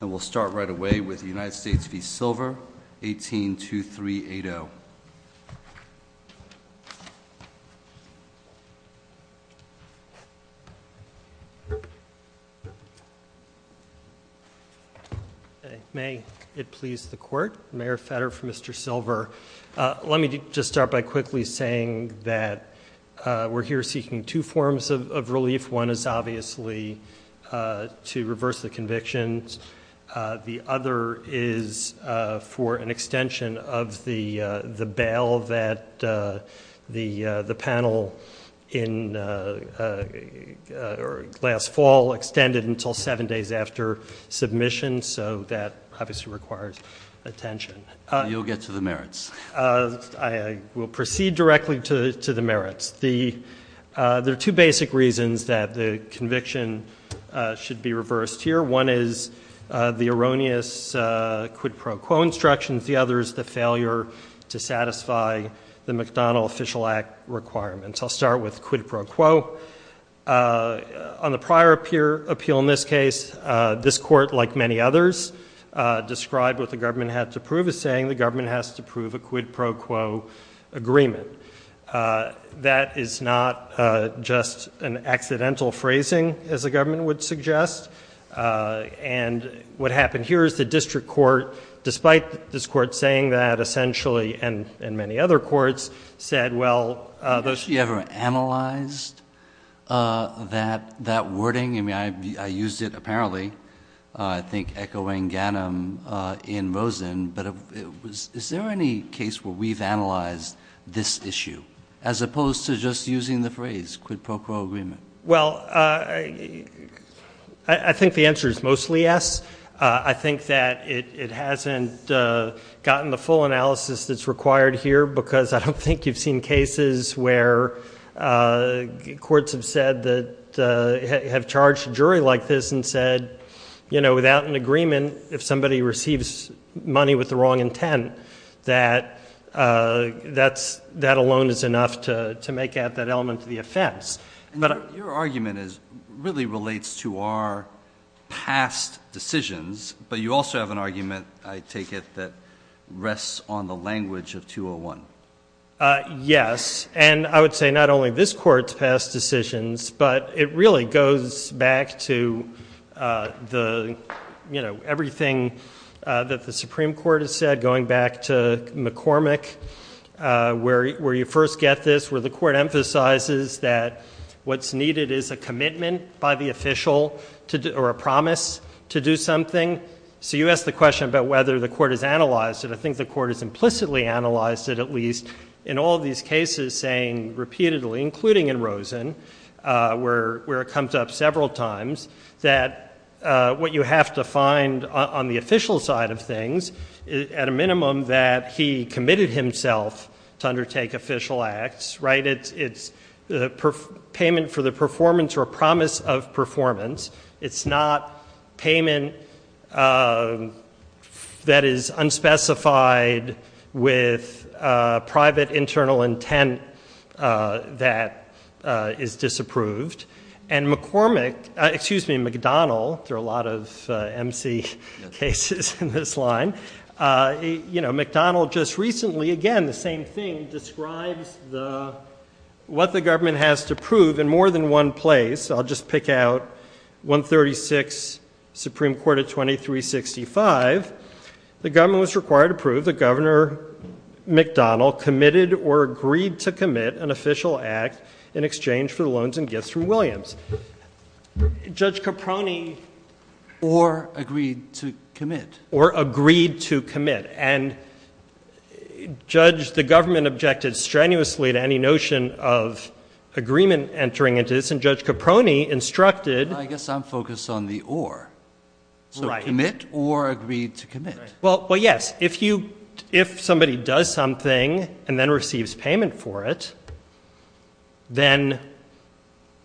And we'll start right away with the United States v. Silver, 18-2-3-8-0. May it please the court, Mayor Fetter for Mr. Silver. Let me just start by quickly saying that we're here seeking two forms of relief. One is obviously to reverse the convictions. The other is for an extension of the bail that the panel last fall extended until seven days after submission. So that obviously requires attention. You'll get to the merits. I will proceed directly to the merits. There are two basic reasons that the conviction should be reversed here. One is the erroneous quid pro quo instructions. The other is the failure to satisfy the McDonnell Official Act requirements. I'll start with quid pro quo. On the prior appeal in this case, this court, like many others, described what the government had to prove as saying the government has to prove a quid pro quo agreement. That is not just an accidental phrasing, as the government would suggest. And what happened here is the district court, despite this court saying that, essentially, and many other courts said, well, those Have you actually ever analyzed that wording? I mean, I used it apparently, I think echoing Ganim in Rosen, but is there any case where we've analyzed this issue as opposed to just using the phrase quid pro quo agreement? Well, I think the answer is mostly yes. I think that it hasn't gotten the full analysis that's required here, because I don't think you've seen cases where courts have said that, have charged a jury like this and said, you know, without an agreement, if somebody receives money with the wrong intent, that that alone is enough to make out that element of the offense. Your argument really relates to our past decisions, but you also have an argument, I take it, that rests on the language of 201. Yes, and I would say not only this court's past decisions, but it really goes back to everything that the Supreme Court has said, going back to McCormick, where you first get this, where the court emphasizes that what's needed is a commitment by the official, or a promise to do something. So you asked the question about whether the court has analyzed it. I think the court has implicitly analyzed it, at least in all of these cases, saying repeatedly, including in Rosen, where it comes up several times, that what you have to find on the official side of things, is at a minimum that he committed himself to undertake official acts, right? It's payment for the performance or promise of performance. It's not payment that is unspecified with private internal intent that is disapproved. And McCormick, excuse me, McDonnell, there are a lot of MC cases in this line, you know, McDonnell just recently, again, the same thing, describes what the government has to prove in more than one place. I'll just pick out 136, Supreme Court of 2365. The government was required to prove that Governor McDonnell committed or agreed to commit an official act in exchange for the loans and gifts from Williams. Judge Caproni. Or agreed to commit. Or agreed to commit. And, Judge, the government objected strenuously to any notion of agreement entering into this, and Judge Caproni instructed. I guess I'm focused on the or. Right. So commit or agreed to commit. Well, yes. If somebody does something and then receives payment for it, then,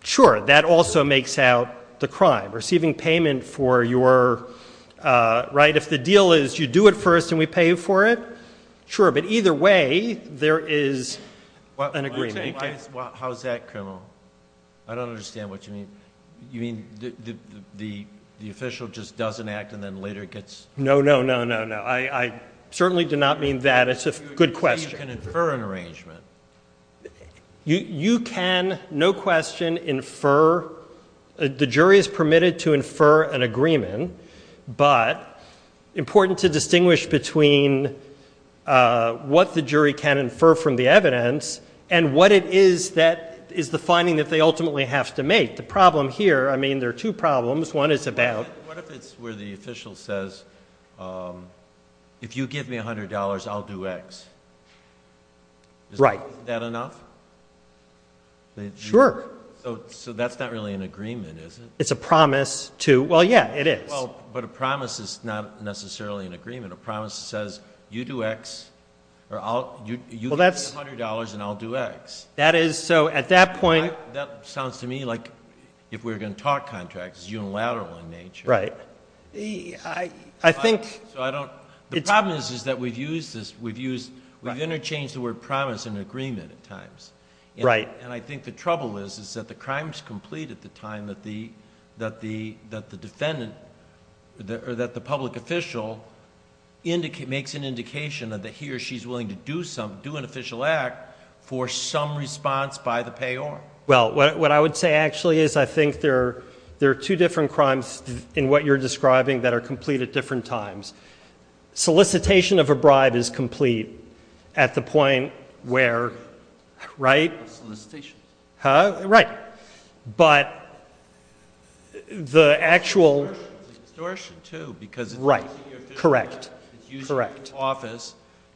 sure, that also makes out the crime. Receiving payment for your, right, if the deal is you do it first and we pay you for it, sure. But either way, there is an agreement. How is that criminal? I don't understand what you mean. You mean the official just does an act and then later gets? No, no, no, no, no. I certainly do not mean that. It's a good question. So you can infer an arrangement. You can, no question, infer. The jury is permitted to infer an agreement, but important to distinguish between what the jury can infer from the evidence and what it is that is the finding that they ultimately have to make. The problem here, I mean, there are two problems. One is about. What if it's where the official says, if you give me $100, I'll do X? Right. Is that enough? Sure. So that's not really an agreement, is it? It's a promise to, well, yeah, it is. Well, but a promise is not necessarily an agreement. A promise says you do X or you give me $100 and I'll do X. That is, so at that point. That sounds to me like if we're going to talk contracts, it's unilateral in nature. Right. I think... So I don't... The problem is that we've used this, we've used, we've interchanged the word promise and agreement at times. Right. And I think the trouble is that the crime is complete at the time that the defendant or that the public official makes an indication that he or she is for some response by the payor. Well, what I would say actually is I think there are two different crimes in what you're describing that are complete at different times. Solicitation of a bribe is complete at the point where... Solicitation. Right. Solicitation. Huh? Right. But the actual... Extortion too because... Right. Correct. Correct. So you want the public office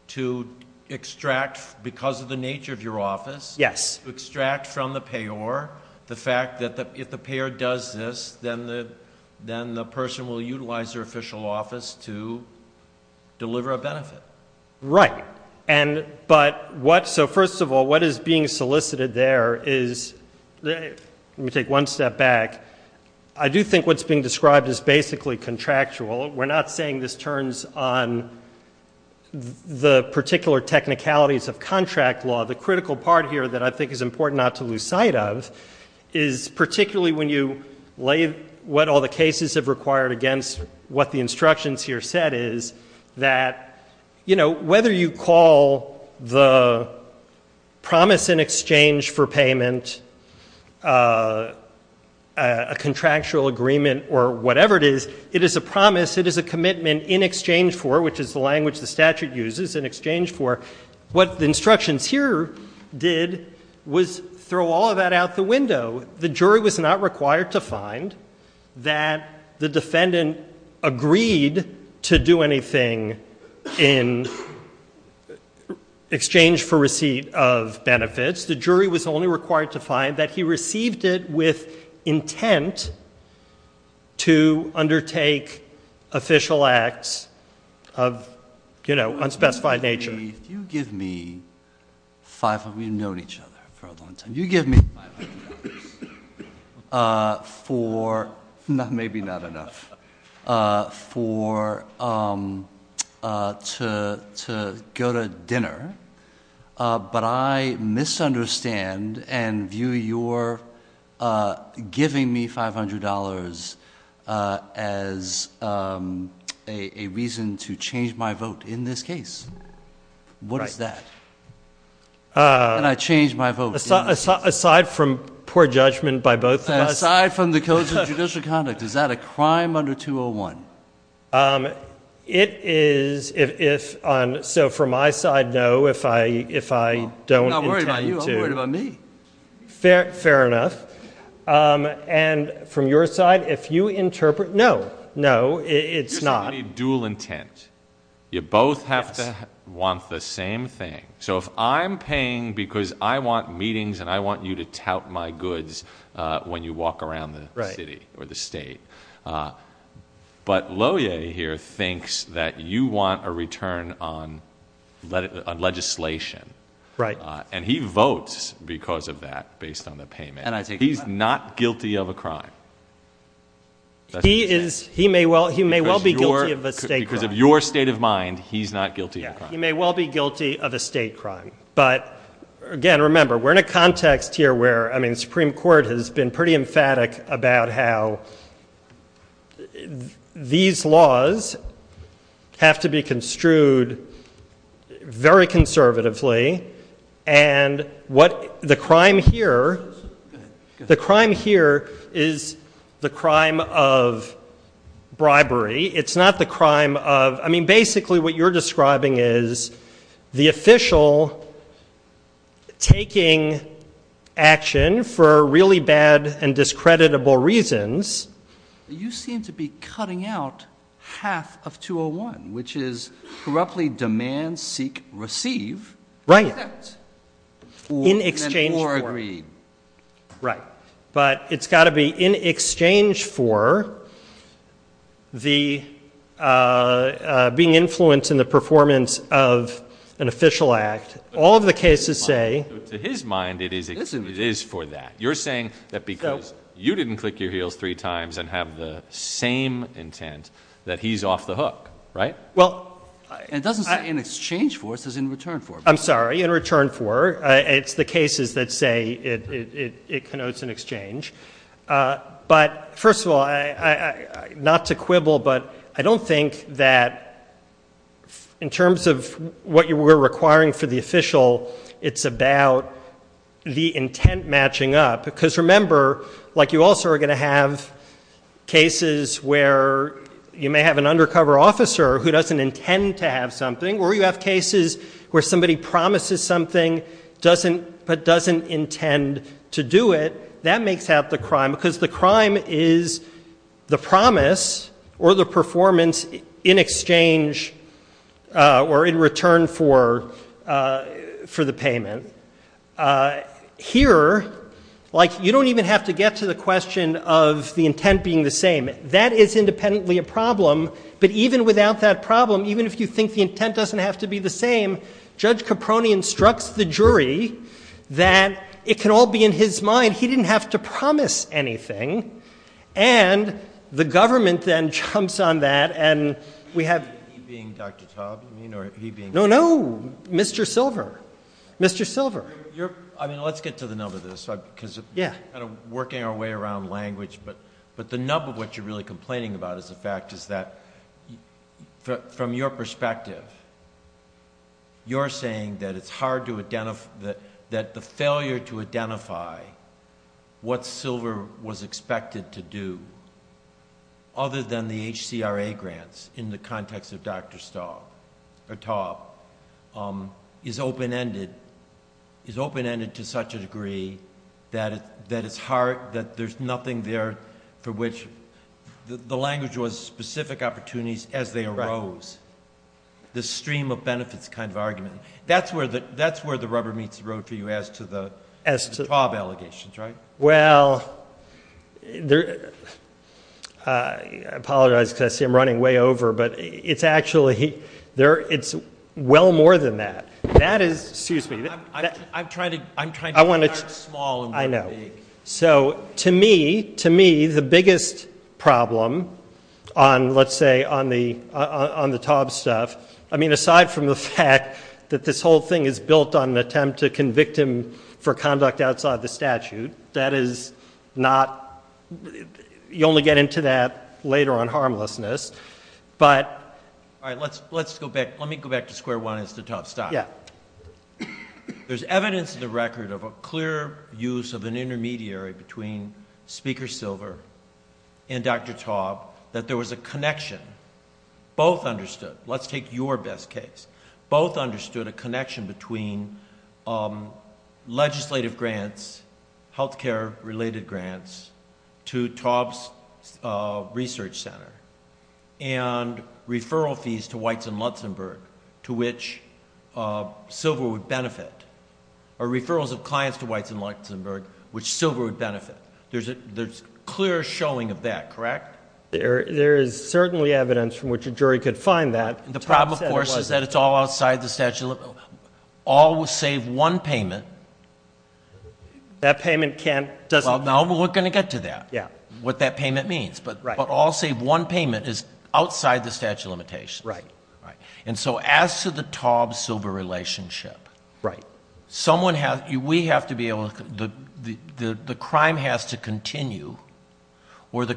to extract because of the nature of your office...... to extract from the payor the fact that if the payor does this, then the person will utilize their official office to deliver a benefit. Right. But what... So first of all, what is being solicited there is... Let me take one step back. I do think what's being described is basically contractual. We're not saying this turns on the particular technicalities of contract law. The critical part here that I think is important not to lose sight of is particularly when you lay what all the cases have required against what the instructions here said is that, you know, whether you call the promise in exchange for payment a contractual agreement or whatever it is, it is a promise. It is a commitment in exchange for, which is the language the statute uses, in exchange for. What the instructions here did was throw all of that out the window. The jury was not required to find that the defendant agreed to do anything in exchange for receipt of benefits. The jury was only required to find that he received it with intent to undertake official acts of, you know, unspecified nature. If you give me... We've known each other for a long time. If you give me $500 for... Maybe not enough. For... To go to dinner. But I misunderstand and view your giving me $500 as a reason to change my vote in this case. What is that? And I changed my vote. Aside from poor judgment by both of us. Aside from the codes of judicial conduct. Is that a crime under 201? It is. So from my side, no. If I don't intend to... I'm not worried about you. I'm worried about me. Fair enough. And from your side, if you interpret... No. No. It's not. Dual intent. You both have to want the same thing. So if I'm paying because I want meetings and I want you to tout my goods when you walk around the city or the state. But Loehr here thinks that you want a return on legislation. Right. And he votes because of that based on the payment. And I take that. He's not guilty of a crime. He is. He may well be guilty of a state crime. Because of your state of mind, he's not guilty of a crime. He may well be guilty of a state crime. But, again, remember, we're in a context here where, I mean, the Supreme Court has been pretty emphatic about how these laws have to be construed very conservatively. And the crime here is the crime of bribery. It's not the crime of... You seem to be cutting out half of 201, which is corruptly demand, seek, receive... Right. In exchange for... Right. But it's got to be in exchange for being influenced in the performance of an official act. All of the cases say... To his mind, it is for that. You're saying that because you didn't click your heels three times and have the same intent, that he's off the hook, right? Well... And it doesn't say in exchange for. It says in return for. I'm sorry. In return for. It's the cases that say it connotes an exchange. But, first of all, not to quibble, but I don't think that in terms of what you were requiring for the official, it's about the intent matching up. Because remember, like you also are going to have cases where you may have an undercover officer who doesn't intend to have something, or you have cases where somebody promises something, but doesn't intend to do it. That makes out the crime, because the crime is the promise or the performance in exchange or in return for the payment. Here, like you don't even have to get to the question of the intent being the same. That is independently a problem. But even without that problem, even if you think the intent doesn't have to be the same, Judge Caproni instructs the jury that it can all be in his mind. He didn't have to promise anything. And the government then jumps on that, and we have... He being Dr. Taub, you mean, or he being... No, no. Mr. Silver. Mr. Silver. I mean, let's get to the nub of this, because we're kind of working our way around language. But the nub of what you're really complaining about is the fact is that, from your perspective, you're saying that it's hard to identify... that the failure to identify what Silver was expected to do, other than the HCRA grants in the context of Dr. Staub or Taub, is open-ended to such a degree that it's hard... that there's nothing there for which... The language was specific opportunities as they arose. The stream of benefits kind of argument. That's where the rubber meets the road for you as to the Taub allegations, right? Well, I apologize because I see I'm running way over. But it's actually... there... it's well more than that. That is... excuse me. I'm trying to... I'm trying to... I want to... Start small and... I know. So, to me... to me, the biggest problem on, let's say, on the Taub stuff... I mean, aside from the fact that this whole thing is built on an attempt to convict him for conduct outside the statute, that is not... you only get into that later on harmlessness. But... All right. Let's go back. Let me go back to square one as to Taub. Stop. Yeah. There's evidence in the record of a clear use of an intermediary between Speaker Silver and Dr. Taub that there was a connection. Both understood. Let's take your best case. Both understood a connection between legislative grants, healthcare-related grants to Taub's research center and referral fees to Weitz and Lutzenberg to which Silver would benefit, or referrals of clients to Weitz and Lutzenberg which Silver would benefit. There's clear showing of that, correct? There is certainly evidence from which a jury could find that. The problem, of course, is that it's all outside the statute of limitations. All save one payment. That payment can't... Well, now we're going to get to that, what that payment means. But all save one payment is outside the statute of limitations. Right. Right. And so as to the Taub-Silver relationship... Right. Someone has... we have to be able to... the crime has to continue or the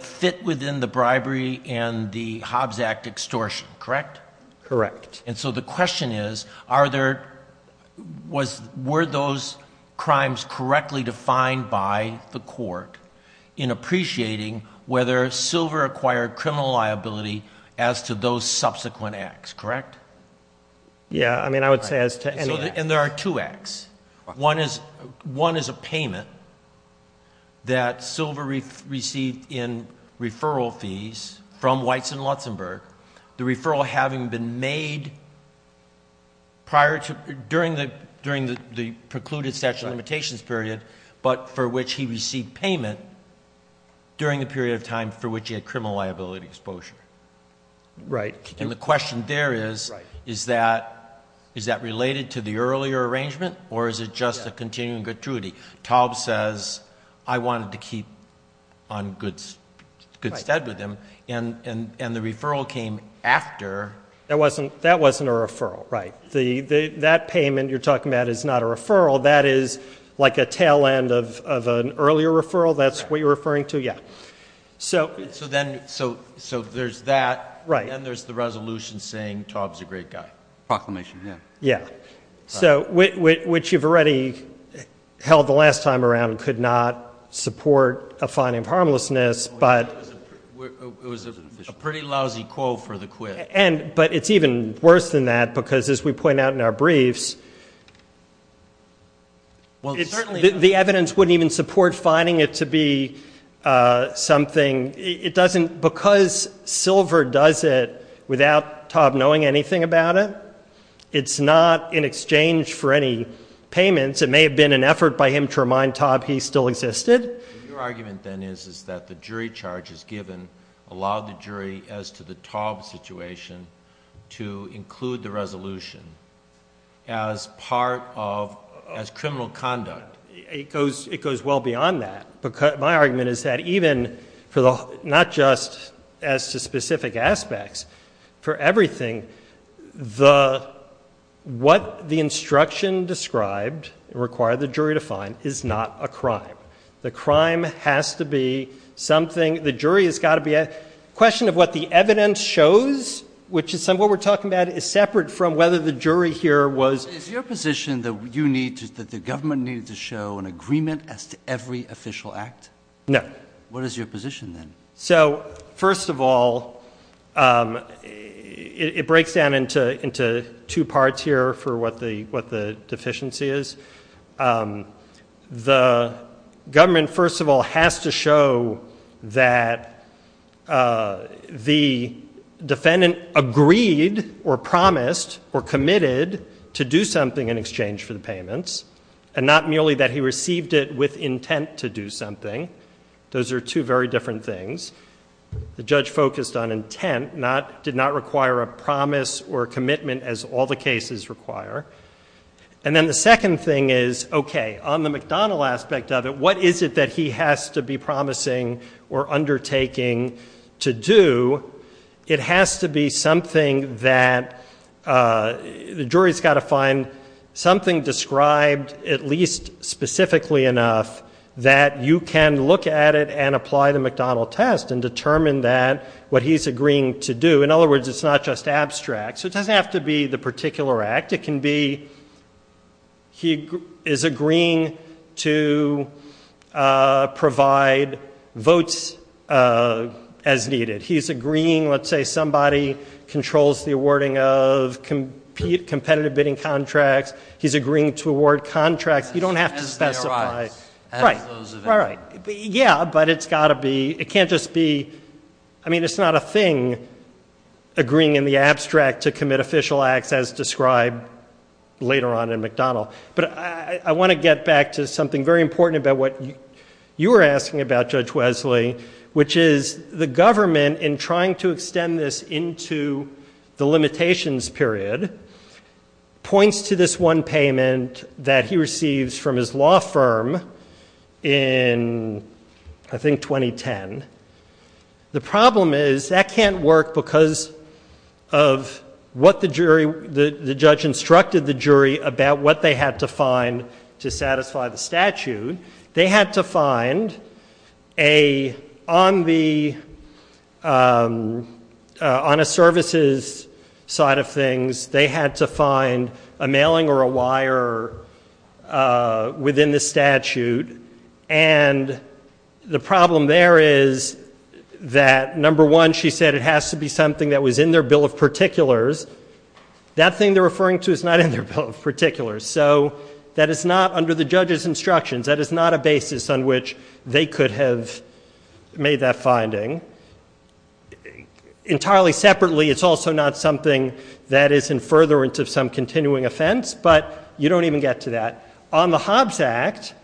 fit within the bribery and the Hobbs Act extortion, correct? Correct. And so the question is, are there... were those crimes correctly defined by the court in appreciating whether Silver acquired criminal liability as to those subsequent acts, correct? Yeah. I mean, I would say as to... And there are two acts. One is a payment that Silver received in referral fees from Weitz and Lutzenberg, the referral having been made prior to... during the precluded statute of limitations period, but for which he received payment during the period of time for which he had criminal liability exposure. Right. And the question there is... Right.... or is it just a continuing gratuity? Taub says, I wanted to keep on good stead with him. Right. And the referral came after... That wasn't a referral. Right. That payment you're talking about is not a referral. That is like a tail end of an earlier referral. That's what you're referring to? Yeah. So then... So there's that. Right. And then there's the resolution saying Taub's a great guy. Proclamation, yeah. Yeah. So which you've already held the last time around could not support a finding of harmlessness, but... It was a pretty lousy call for the quit. But it's even worse than that because, as we point out in our briefs... Well, certainly...... the evidence wouldn't even support finding it to be something. It doesn't... because Silver does it without Taub knowing anything about it. It's not in exchange for any payments. It may have been an effort by him to remind Taub he still existed. Your argument then is that the jury charges given allowed the jury, as to the Taub situation, to include the resolution as part of... as criminal conduct. It goes well beyond that. My argument is that even for the... not just as to specific aspects. For everything, the... what the instruction described required the jury to find is not a crime. The crime has to be something... the jury has got to be... The question of what the evidence shows, which is what we're talking about, is separate from whether the jury here was... Is your position that you need to... that the government needed to show an agreement as to every official act? No. What is your position then? First of all, it breaks down into two parts here for what the deficiency is. The government, first of all, has to show that the defendant agreed or promised or committed to do something in exchange for the payments. Not merely that he received it with intent to do something. Those are two very different things. The judge focused on intent. Not... did not require a promise or commitment as all the cases require. And then the second thing is, okay, on the McDonnell aspect of it, what is it that he has to be promising or undertaking to do? It has to be something that... the jury's got to find something that is described at least specifically enough that you can look at it and apply the McDonnell test and determine what he's agreeing to do. In other words, it's not just abstract. So it doesn't have to be the particular act. It can be he is agreeing to provide votes as needed. He's agreeing, let's say somebody controls the awarding of competitive bidding contracts. He's agreeing to award contracts. You don't have to specify. Right. Yeah, but it's got to be... it can't just be... I mean, it's not a thing agreeing in the abstract to commit official acts as described later on in McDonnell. But I want to get back to something very important about what you were asking about, Judge Wesley, which is the government, in trying to extend this into the limitations period, points to this one payment that he receives from his law firm in, I think, 2010. The problem is that can't work because of what the jury... the judge instructed the jury about what they had to find to satisfy the statute. They had to find a... on a services side of things, they had to find a mailing or a wire within the statute. And the problem there is that, number one, she said it has to be something that was in their bill of particulars. That thing they're referring to is not in their bill of particulars. So, that is not under the judge's instructions. That is not a basis on which they could have made that finding. Entirely separately, it's also not something that is in furtherance of some continuing offense, but you don't even get to that. On the Hobbs Act,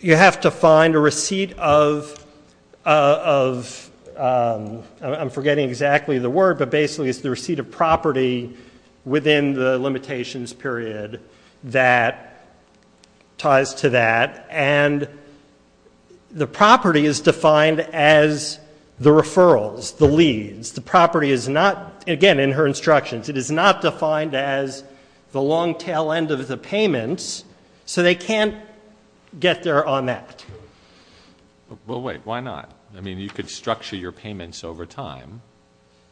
you have to find a receipt of... I'm forgetting exactly the word, but basically it's the receipt of property within the limitations period that ties to that. And the property is defined as the referrals, the leads. The property is not... again, in her instructions, it is not defined as the long tail end of the payments. So, they can't get there on that. Well, wait, why not? I mean, you could structure your payments over time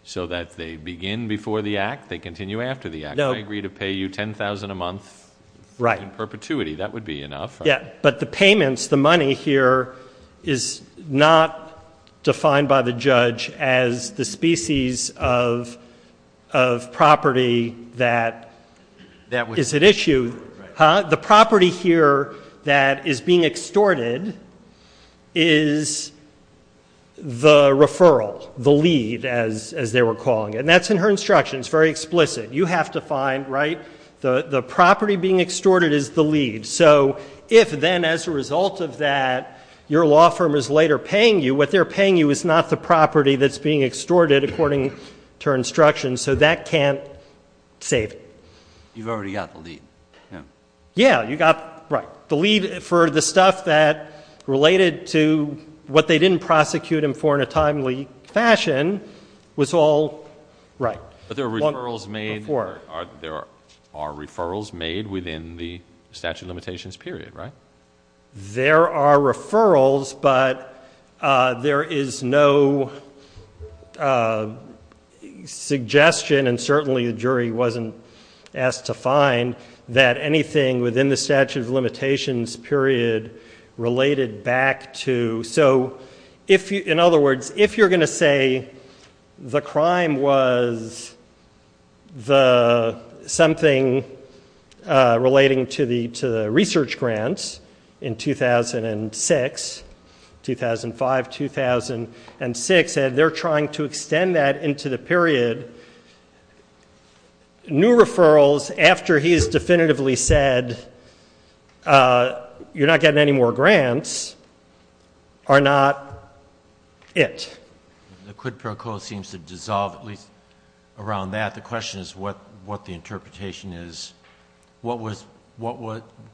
so that they begin before the act, they continue after the act. I agree to pay you $10,000 a month in perpetuity. That would be enough. Yeah, but the payments, the money here, is not defined by the judge as the species of property that is at issue. The property here that is being extorted is the referral, the lead, as they were calling it. And that's in her instructions, very explicit. You have to find... the property being extorted is the lead. So, if then, as a result of that, your law firm is later paying you, what they're paying you is not the property that's being extorted according to her instructions, so that can't save it. You've already got the lead. Yeah. Yeah, you got... right. The lead for the stuff that related to what they didn't prosecute him for in a timely fashion was all... right. But there are referrals made... Before. There are referrals made within the statute of limitations period, right? There are referrals, but there is no suggestion, and certainly the jury wasn't asked to find, that anything within the statute of limitations period related back to... in 2006, 2005-2006, and they're trying to extend that into the period. New referrals, after he's definitively said, you're not getting any more grants, are not it. The quid pro quo seems to dissolve, at least around that. The question is what the interpretation is. What was...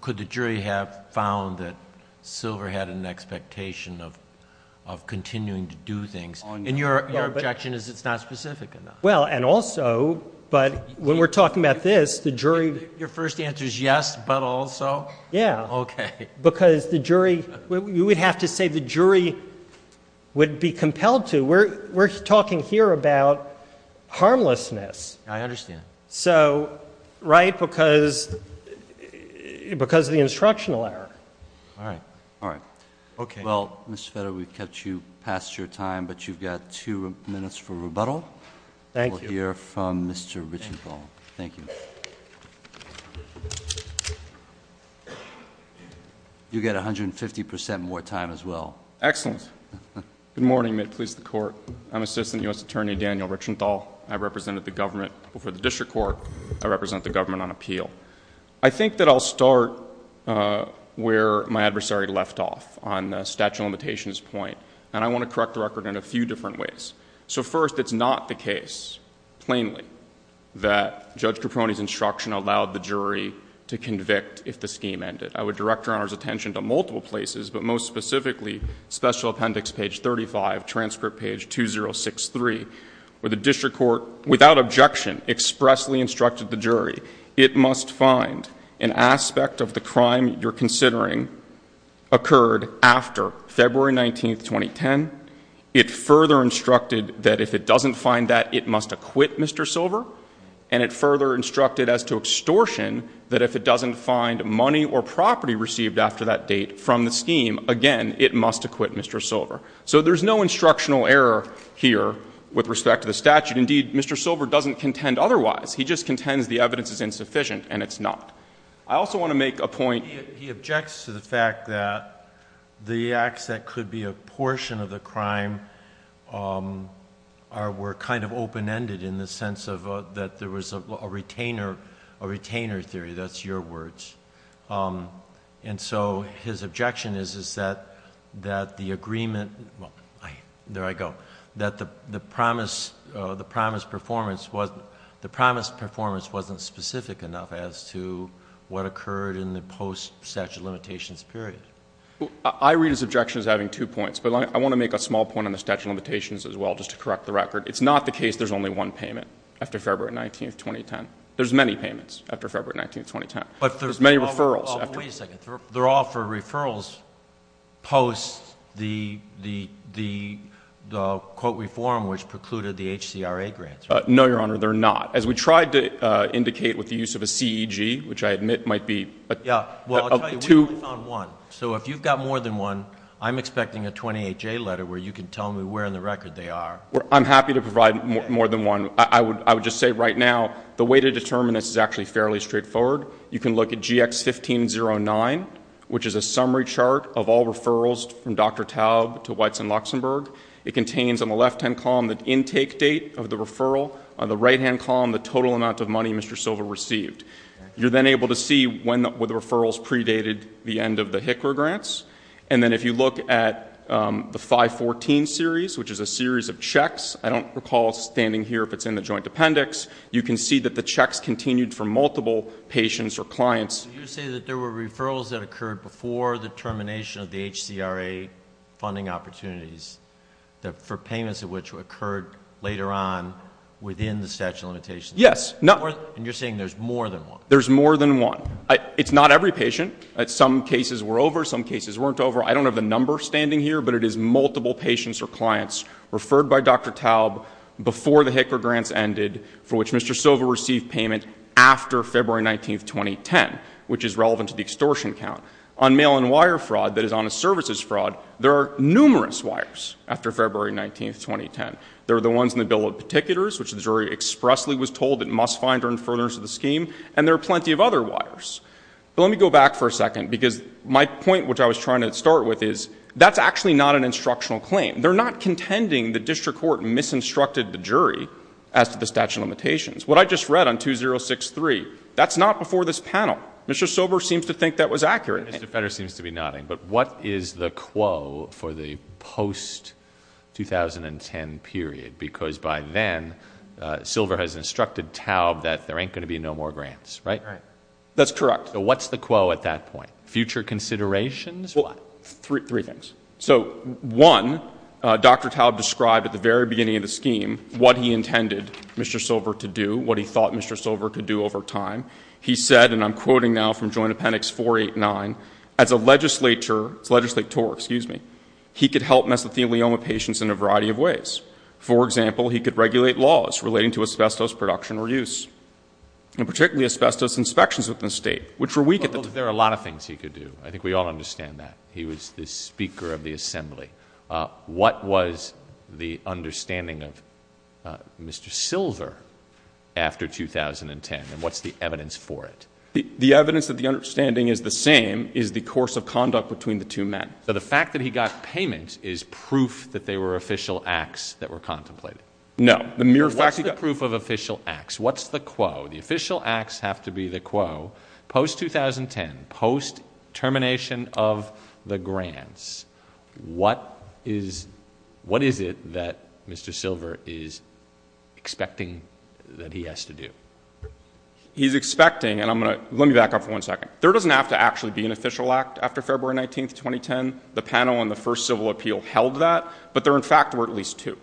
could the jury have found that Silver had an expectation of continuing to do things? And your objection is it's not specific enough. Well, and also, but when we're talking about this, the jury... Your first answer is yes, but also? Yeah. Okay. Because the jury... you would have to say the jury would be compelled to. We're talking here about harmlessness. I understand. So, right, because of the instructional error. All right. All right. Okay. Well, Mr. Feder, we've kept you past your time, but you've got two minutes for rebuttal. Thank you. We'll hear from Mr. Richenthal. Thank you. You get 150 percent more time as well. Excellent. Good morning. May it please the Court. I'm Assistant U.S. Attorney Daniel Richenthal. I represented the government before the District Court. I represent the government on appeal. I think that I'll start where my adversary left off on the statute of limitations point. And I want to correct the record in a few different ways. So, first, it's not the case, plainly, that Judge Caprone's instruction allowed the jury to convict if the scheme ended. I would direct Your Honor's attention to multiple places, but most specifically, Special Appendix page 35, transcript page 2063, where the District Court, without objection, expressly instructed the jury, it must find an aspect of the crime you're considering occurred after February 19th, 2010. It further instructed that if it doesn't find that, it must acquit Mr. Silver. And it further instructed as to extortion that if it doesn't find money or property received after that date from the scheme, again, it must acquit Mr. Silver. So there's no instructional error here with respect to the statute. Indeed, Mr. Silver doesn't contend otherwise. He just contends the evidence is insufficient, and it's not. I also want to make a point. He objects to the fact that the acts that could be a portion of the crime were kind of open-ended in the sense that there was a retainer theory. That's your words. And so his objection is that the agreement, well, there I go, that the promised performance wasn't specific enough as to what occurred in the post-statute limitations period. I read his objection as having two points, but I want to make a small point on the statute of limitations as well, just to correct the record. It's not the case there's only one payment after February 19th, 2010. There's many payments after February 19th, 2010. There's many referrals. Wait a second. They're all for referrals post the quote reform which precluded the HCRA grants, right? No, Your Honor. They're not. As we tried to indicate with the use of a CEG, which I admit might be a two- Yeah. Well, I'll tell you, we only found one. So if you've got more than one, I'm expecting a 28-J letter where you can tell me where in the record they are. I'm happy to provide more than one. I would just say right now the way to determine this is actually fairly straightforward. You can look at GX1509, which is a summary chart of all referrals from Dr. Taub to Weitz and Luxembourg. It contains on the left-hand column the intake date of the referral. On the right-hand column, the total amount of money Mr. Silva received. You're then able to see when the referrals predated the end of the HCRA grants. And then if you look at the 514 series, which is a series of checks, I don't recall standing here if it's in the joint appendix, you can see that the checks continued for multiple patients or clients. You say that there were referrals that occurred before the termination of the HCRA funding opportunities for payments of which occurred later on within the statute of limitations. Yes. And you're saying there's more than one. There's more than one. It's not every patient. Some cases were over. Some cases weren't over. I don't have the number standing here, but it is multiple patients or clients referred by Dr. Taub before the HCRA grants ended for which Mr. Silva received payment after February 19, 2010, which is relevant to the extortion count. On mail-in wire fraud that is on a services fraud, there are numerous wires after February 19, 2010. There are the ones in the Bill of Particulars, which the jury expressly was told it must find during furtherance of the scheme, and there are plenty of other wires. But let me go back for a second because my point, which I was trying to start with, is that's actually not an instructional claim. They're not contending the district court misinstructed the jury as to the statute of limitations. What I just read on 2063, that's not before this panel. Mr. Sober seems to think that was accurate. Mr. Federer seems to be nodding, but what is the quo for the post-2010 period? Because by then, Silva has instructed Taub that there ain't going to be no more grants, right? That's correct. So what's the quo at that point, future considerations? Well, three things. So one, Dr. Taub described at the very beginning of the scheme what he intended Mr. Silva to do, what he thought Mr. Silva could do over time. He said, and I'm quoting now from Joint Appendix 489, as a legislature, he could help mesothelioma patients in a variety of ways. For example, he could regulate laws relating to asbestos production or use, and particularly asbestos inspections within the state, which were weak at the time. There are a lot of things he could do. I think we all understand that. He was the Speaker of the Assembly. What was the understanding of Mr. Silva after 2010, and what's the evidence for it? The evidence that the understanding is the same is the course of conduct between the two men. So the fact that he got payment is proof that they were official acts that were contemplated? No. What's the proof of official acts? What's the quo? The official acts have to be the quo. Post-2010, post-termination of the grants, what is it that Mr. Silva is expecting that he has to do? He's expecting, and let me back up for one second. There doesn't have to actually be an official act after February 19th, 2010. The panel on the first civil appeal held that, but there, in fact, were at least two.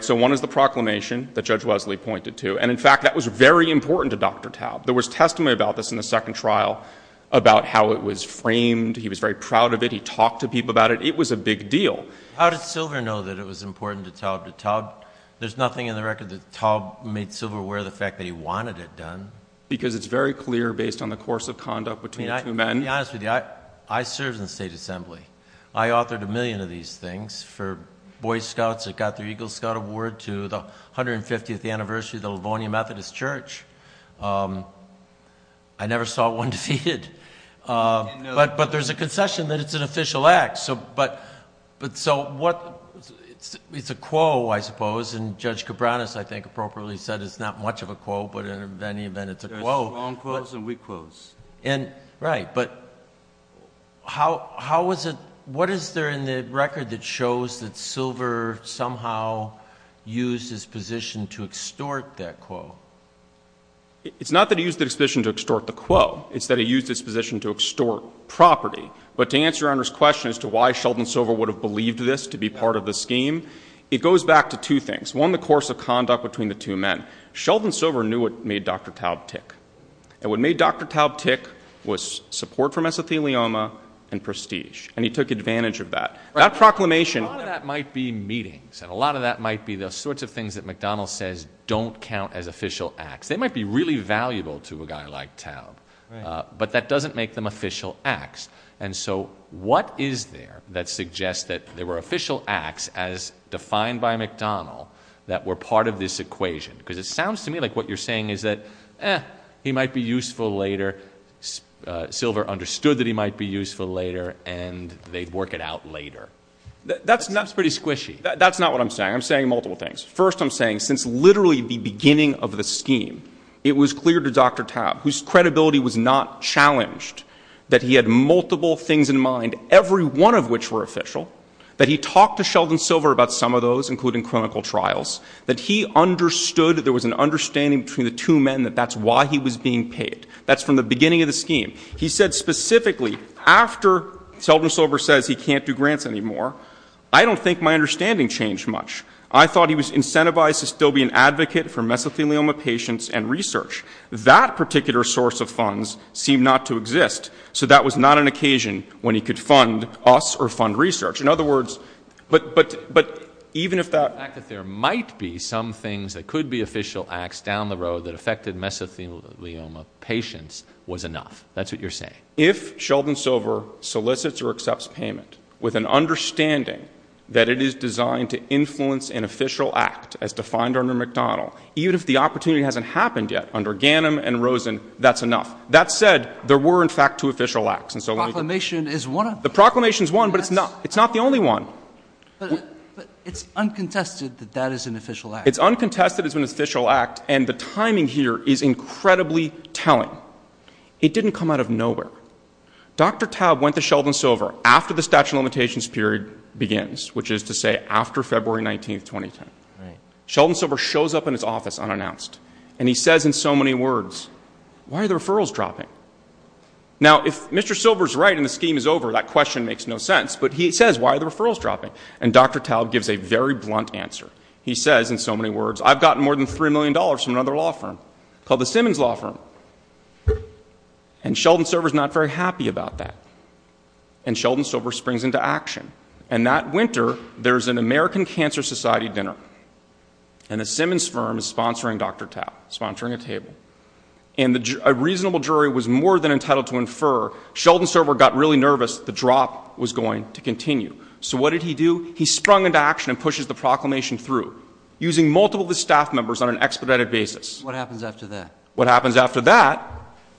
So one is the proclamation that Judge Wesley pointed to, and, in fact, that was very important to Dr. Taub. There was testimony about this in the second trial about how it was framed. He was very proud of it. He talked to people about it. It was a big deal. How did Silva know that it was important to Taub? There's nothing in the record that Taub made Silva aware of the fact that he wanted it done. Because it's very clear, based on the course of conduct between the two men. To be honest with you, I served in the State Assembly. I authored a million of these things for Boy Scouts that got their Eagle Scout Award to the 150th anniversary of the Livonia Methodist Church. I never saw one defeated. But there's a concession that it's an official act. It's a quo, I suppose, and Judge Cabranes, I think, appropriately said it's not much of a quo, but in any event, it's a quo. There's strong quos and weak quos. Right, but what is there in the record that shows that Silva somehow used his position to extort that quo? It's not that he used his position to extort the quo. It's that he used his position to extort property. But to answer Your Honor's question as to why Sheldon Silva would have believed this to be part of the scheme, it goes back to two things. One, the course of conduct between the two men. Sheldon Silva knew what made Dr. Taub tick. And what made Dr. Taub tick was support for mesothelioma and prestige. And he took advantage of that. Right. That proclamation. A lot of that might be meetings. And a lot of that might be the sorts of things that McDonnell says don't count as official acts. They might be really valuable to a guy like Taub. Right. But that doesn't make them official acts. And so what is there that suggests that there were official acts as defined by McDonnell that were part of this equation? Because it sounds to me like what you're saying is that, eh, he might be useful later, Silva understood that he might be useful later, and they'd work it out later. That's pretty squishy. That's not what I'm saying. I'm saying multiple things. First, I'm saying since literally the beginning of the scheme, it was clear to Dr. Taub, whose credibility was not challenged, that he had multiple things in mind, every one of which were official, that he talked to Sheldon Silva about some of those, including clinical trials, that he understood that there was an understanding between the two men that that's why he was being paid. That's from the beginning of the scheme. He said specifically, after Sheldon Silva says he can't do grants anymore, I don't think my understanding changed much. I thought he was incentivized to still be an advocate for mesothelioma patients and research. That particular source of funds seemed not to exist, so that was not an occasion when he could fund us or fund research. In other words, but even if that — there might be some things that could be official acts down the road that affected mesothelioma patients was enough. That's what you're saying. If Sheldon Silva solicits or accepts payment with an understanding that it is designed to influence an official act, as defined under McDonald, even if the opportunity hasn't happened yet under Ganim and Rosen, that's enough. That said, there were, in fact, two official acts. The proclamation is one of them. The proclamation is one, but it's not the only one. But it's uncontested that that is an official act. It's uncontested as an official act, and the timing here is incredibly telling. It didn't come out of nowhere. Dr. Taub went to Sheldon Silva after the statute of limitations period begins, which is to say after February 19, 2010. Right. Sheldon Silva shows up in his office unannounced, and he says in so many words, why are the referrals dropping? Now, if Mr. Silva is right and the scheme is over, that question makes no sense, but he says, why are the referrals dropping? And Dr. Taub gives a very blunt answer. He says in so many words, I've gotten more than $3 million from another law firm called the Simmons Law Firm. And Sheldon Silva is not very happy about that. And Sheldon Silva springs into action. And that winter, there's an American Cancer Society dinner, and a Simmons firm is sponsoring Dr. Taub, sponsoring a table. And a reasonable jury was more than entitled to infer. Sheldon Silva got really nervous. The drop was going to continue. So what did he do? He sprung into action and pushes the proclamation through, using multiple of his staff members on an expedited basis. What happens after that? What happens after that,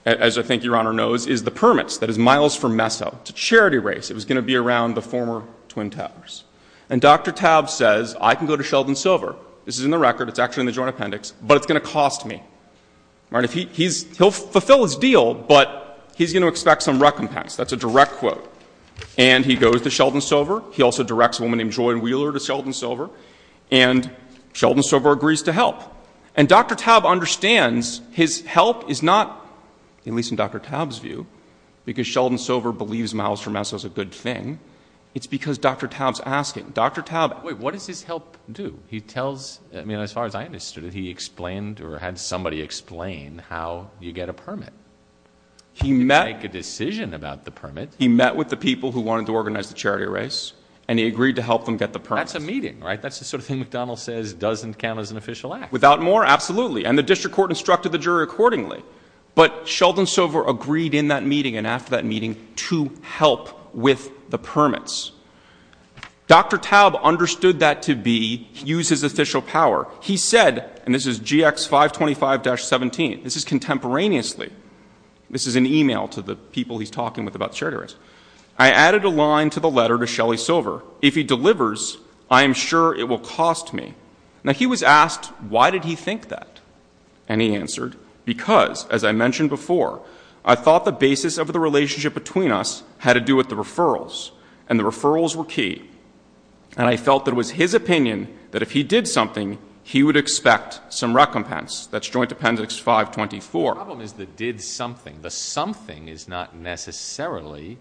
as I think Your Honor knows, is the permits. That is miles from Meso to Charity Race. It was going to be around the former Twin Towers. And Dr. Taub says, I can go to Sheldon Silva. This is in the record. It's actually in the joint appendix. But it's going to cost me. He'll fulfill his deal, but he's going to expect some recompense. That's a direct quote. And he goes to Sheldon Silva. He also directs a woman named Joy Wheeler to Sheldon Silva. And Sheldon Silva agrees to help. And Dr. Taub understands his help is not, at least in Dr. Taub's view, because Sheldon Silva believes miles from Meso is a good thing. It's because Dr. Taub's asking. Dr. Taub. Wait, what does his help do? He tells, I mean, as far as I understood it, he explained or had somebody explain how you get a permit. You make a decision about the permit. He met with the people who wanted to organize the charity race, and he agreed to help them get the permit. That's a meeting, right? That's the sort of thing McDonald says doesn't count as an official act. Without more? Absolutely. And the district court instructed the jury accordingly. But Sheldon Silva agreed in that meeting and after that meeting to help with the permits. Dr. Taub understood that to be, use his official power. He said, and this is GX 525-17, this is contemporaneously. This is an email to the people he's talking with about the charity race. I added a line to the letter to Shelly Silver. If he delivers, I am sure it will cost me. Now, he was asked why did he think that. And he answered, because, as I mentioned before, I thought the basis of the relationship between us had to do with the referrals, and the referrals were key. And I felt that it was his opinion that if he did something, he would expect some recompense. That's Joint Appendix 524. The problem is the did something. The something is not necessarily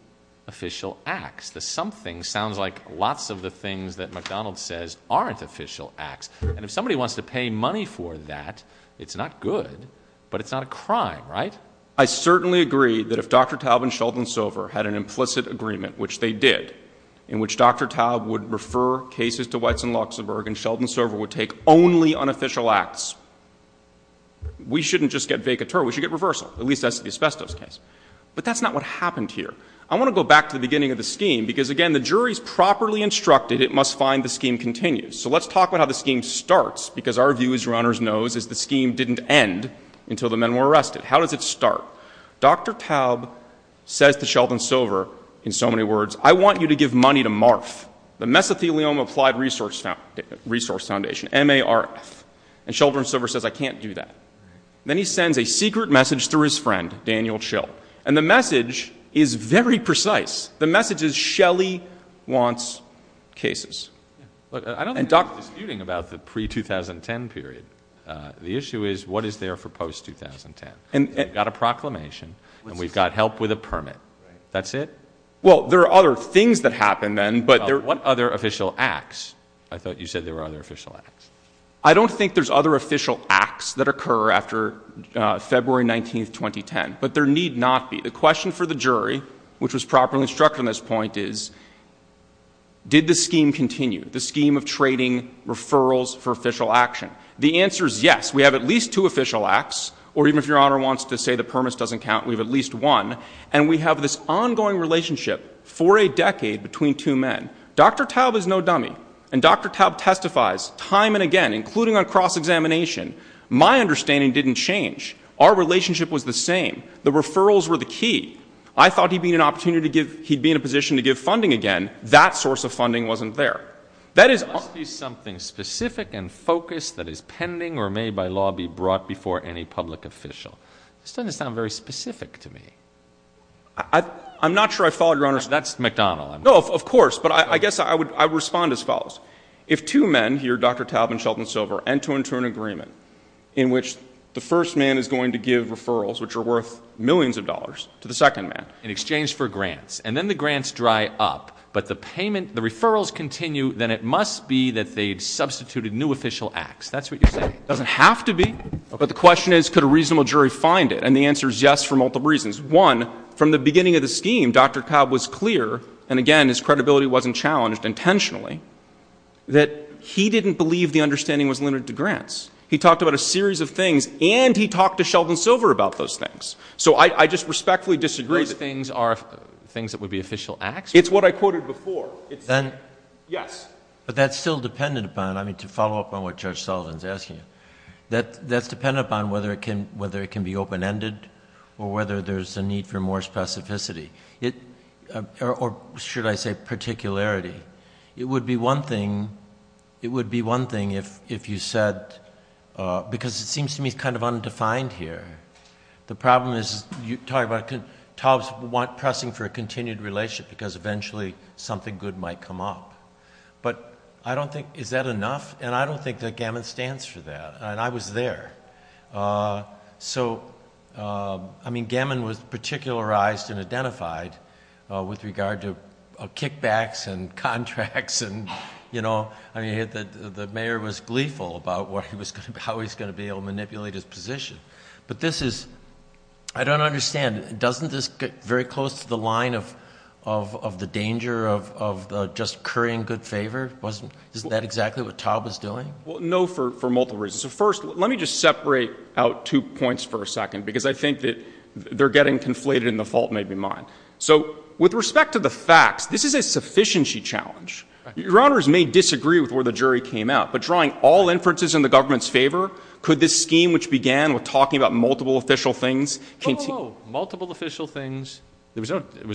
official acts. The something sounds like lots of the things that McDonald says aren't official acts. And if somebody wants to pay money for that, it's not good, but it's not a crime, right? I certainly agree that if Dr. Taub and Sheldon Silva had an implicit agreement, which they did, in which Dr. Taub would refer cases to Weitz and Luxembourg and Sheldon Silva would take only unofficial acts, we shouldn't just get vacateur. We should get reversal, at least as to the asbestos case. But that's not what happened here. I want to go back to the beginning of the scheme, because, again, the jury's properly instructed it must find the scheme continues. So let's talk about how the scheme starts, because our view, as Your Honors knows, is the scheme didn't end until the men were arrested. How does it start? Dr. Taub says to Sheldon Silva, in so many words, I want you to give money to MARF, the Mesothelioma Applied Resource Foundation, M-A-R-F. And Sheldon Silva says, I can't do that. Then he sends a secret message through his friend, Daniel Schill, and the message is very precise. The message is Shelley wants cases. I don't think we're disputing about the pre-2010 period. The issue is what is there for post-2010. We've got a proclamation and we've got help with a permit. That's it? Well, there are other things that happen then, but there are... What other official acts? I thought you said there were other official acts. I don't think there's other official acts that occur after February 19, 2010, but there need not be. The question for the jury, which was properly structured on this point, is did the scheme continue, the scheme of trading referrals for official action? The answer is yes. We have at least two official acts, or even if Your Honor wants to say the permit doesn't count, we have at least one, and we have this ongoing relationship for a decade between two men. Dr. Taub is no dummy, and Dr. Taub testifies time and again, including on cross-examination, my understanding didn't change. Our relationship was the same. The referrals were the key. I thought he'd be in an opportunity to give... he'd be in a position to give funding again. That source of funding wasn't there. That is... Must be something specific and focused that is pending or may by law be brought before any public official. This doesn't sound very specific to me. I'm not sure I followed Your Honor's... That's McDonald. No, of course, but I guess I would respond as follows. If two men, here Dr. Taub and Sheldon Silver, enter into an agreement in which the first man is going to give referrals, which are worth millions of dollars, to the second man... In exchange for grants, and then the grants dry up, but the payment, the referrals continue, then it must be that they substituted new official acts. That's what you're saying. It doesn't have to be, but the question is could a reasonable jury find it, and the answer is yes for multiple reasons. One, from the beginning of the scheme, Dr. Taub was clear, and again, his credibility wasn't challenged intentionally, that he didn't believe the understanding was limited to grants. He talked about a series of things, and he talked to Sheldon Silver about those things. So, I just respectfully disagree that... Those things are things that would be official acts? It's what I quoted before. It's... Then... Yes. But that's still dependent upon, I mean, to follow up on what Judge Sullivan is asking, that's dependent upon whether it can be open-ended, or whether there's a need for more specificity, or should I say particularity. It would be one thing if you said... because it seems to me it's kind of undefined here. The problem is you talk about Taub's pressing for a continued relationship, because eventually something good might come up. But, I don't think... is that enough? And, I don't think that Gammon stands for that. And, I was there. So, I mean, Gammon was particularized and identified with regard to kickbacks and contracts. And, you know, the mayor was gleeful about how he was going to be able to manipulate his position. But this is... I don't understand. Doesn't this get very close to the line of the danger of just currying good favor? Isn't that exactly what Taub was doing? Well, no, for multiple reasons. So, first, let me just separate out two points for a second, because I think that they're getting conflated, and the fault may be mine. So, with respect to the facts, this is a sufficiency challenge. Your Honors may disagree with where the jury came out, but drawing all inferences in the government's favor, Oh, multiple official things. Was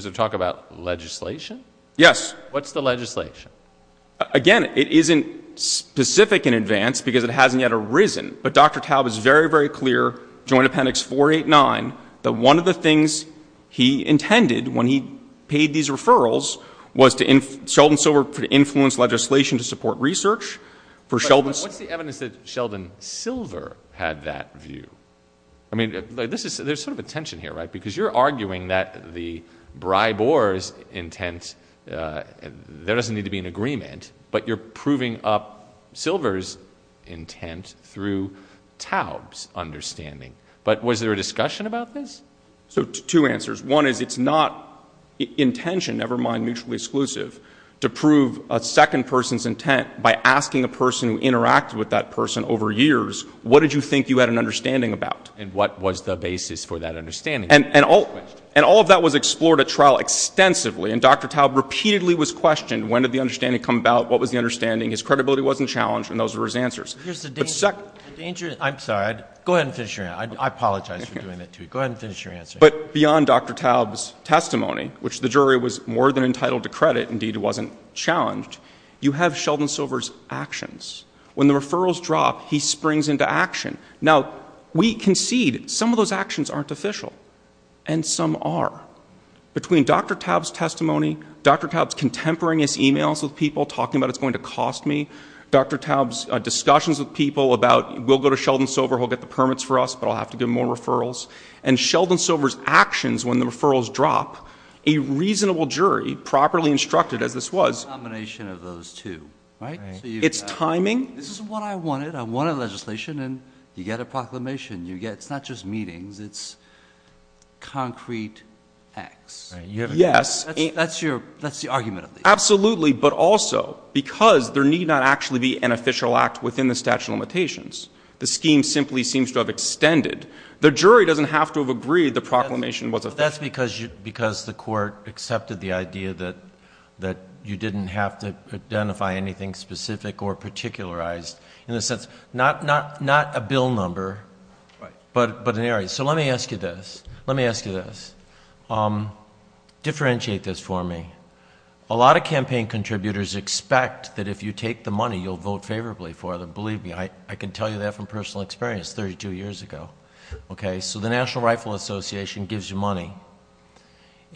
there talk about legislation? Yes. What's the legislation? Again, it isn't specific in advance, because it hasn't yet arisen. But, Dr. Taub is very, very clear, Joint Appendix 489, that one of the things he intended when he paid these referrals was for Sheldon Silver to influence legislation to support research. What's the evidence that Sheldon Silver had that view? I mean, there's sort of a tension here, right? Because you're arguing that the bribe-or's intent, there doesn't need to be an agreement, but you're proving up Silver's intent through Taub's understanding. But was there a discussion about this? So, two answers. One is, it's not intention, never mind mutually exclusive, to prove a second person's intent by asking a person who interacted with that person over years, what did you think you had an understanding about? And what was the basis for that understanding? And all of that was explored at trial extensively, and Dr. Taub repeatedly was questioned, when did the understanding come about, what was the understanding? His credibility wasn't challenged, and those were his answers. Here's the danger. I'm sorry. Go ahead and finish your answer. I apologize for doing that to you. Go ahead and finish your answer. But beyond Dr. Taub's testimony, which the jury was more than entitled to credit, indeed it wasn't challenged, you have Sheldon Silver's actions. When the referrals drop, he springs into action. Now, we concede some of those actions aren't official, and some are. Between Dr. Taub's testimony, Dr. Taub's contemporaneous emails with people talking about it's going to cost me, Dr. Taub's discussions with people about, we'll go to Sheldon Silver, he'll get the permits for us, but I'll have to give him more referrals, and Sheldon Silver's actions when the referrals drop, a reasonable jury, properly instructed as this was. A combination of those two, right? It's timing. This is what I wanted. I wanted legislation, and you get a proclamation. It's not just meetings. It's concrete acts. Yes. That's the argument of these. Absolutely, but also because there need not actually be an official act within the statute of limitations. The jury doesn't have to have agreed the proclamation was official. That's because the court accepted the idea that you didn't have to identify anything specific or particularized. In a sense, not a bill number, but an area. Let me ask you this. Let me ask you this. Differentiate this for me. A lot of campaign contributors expect that if you take the money, you'll vote favorably for them. Believe me, I can tell you that from personal experience 32 years ago. The National Rifle Association gives you money,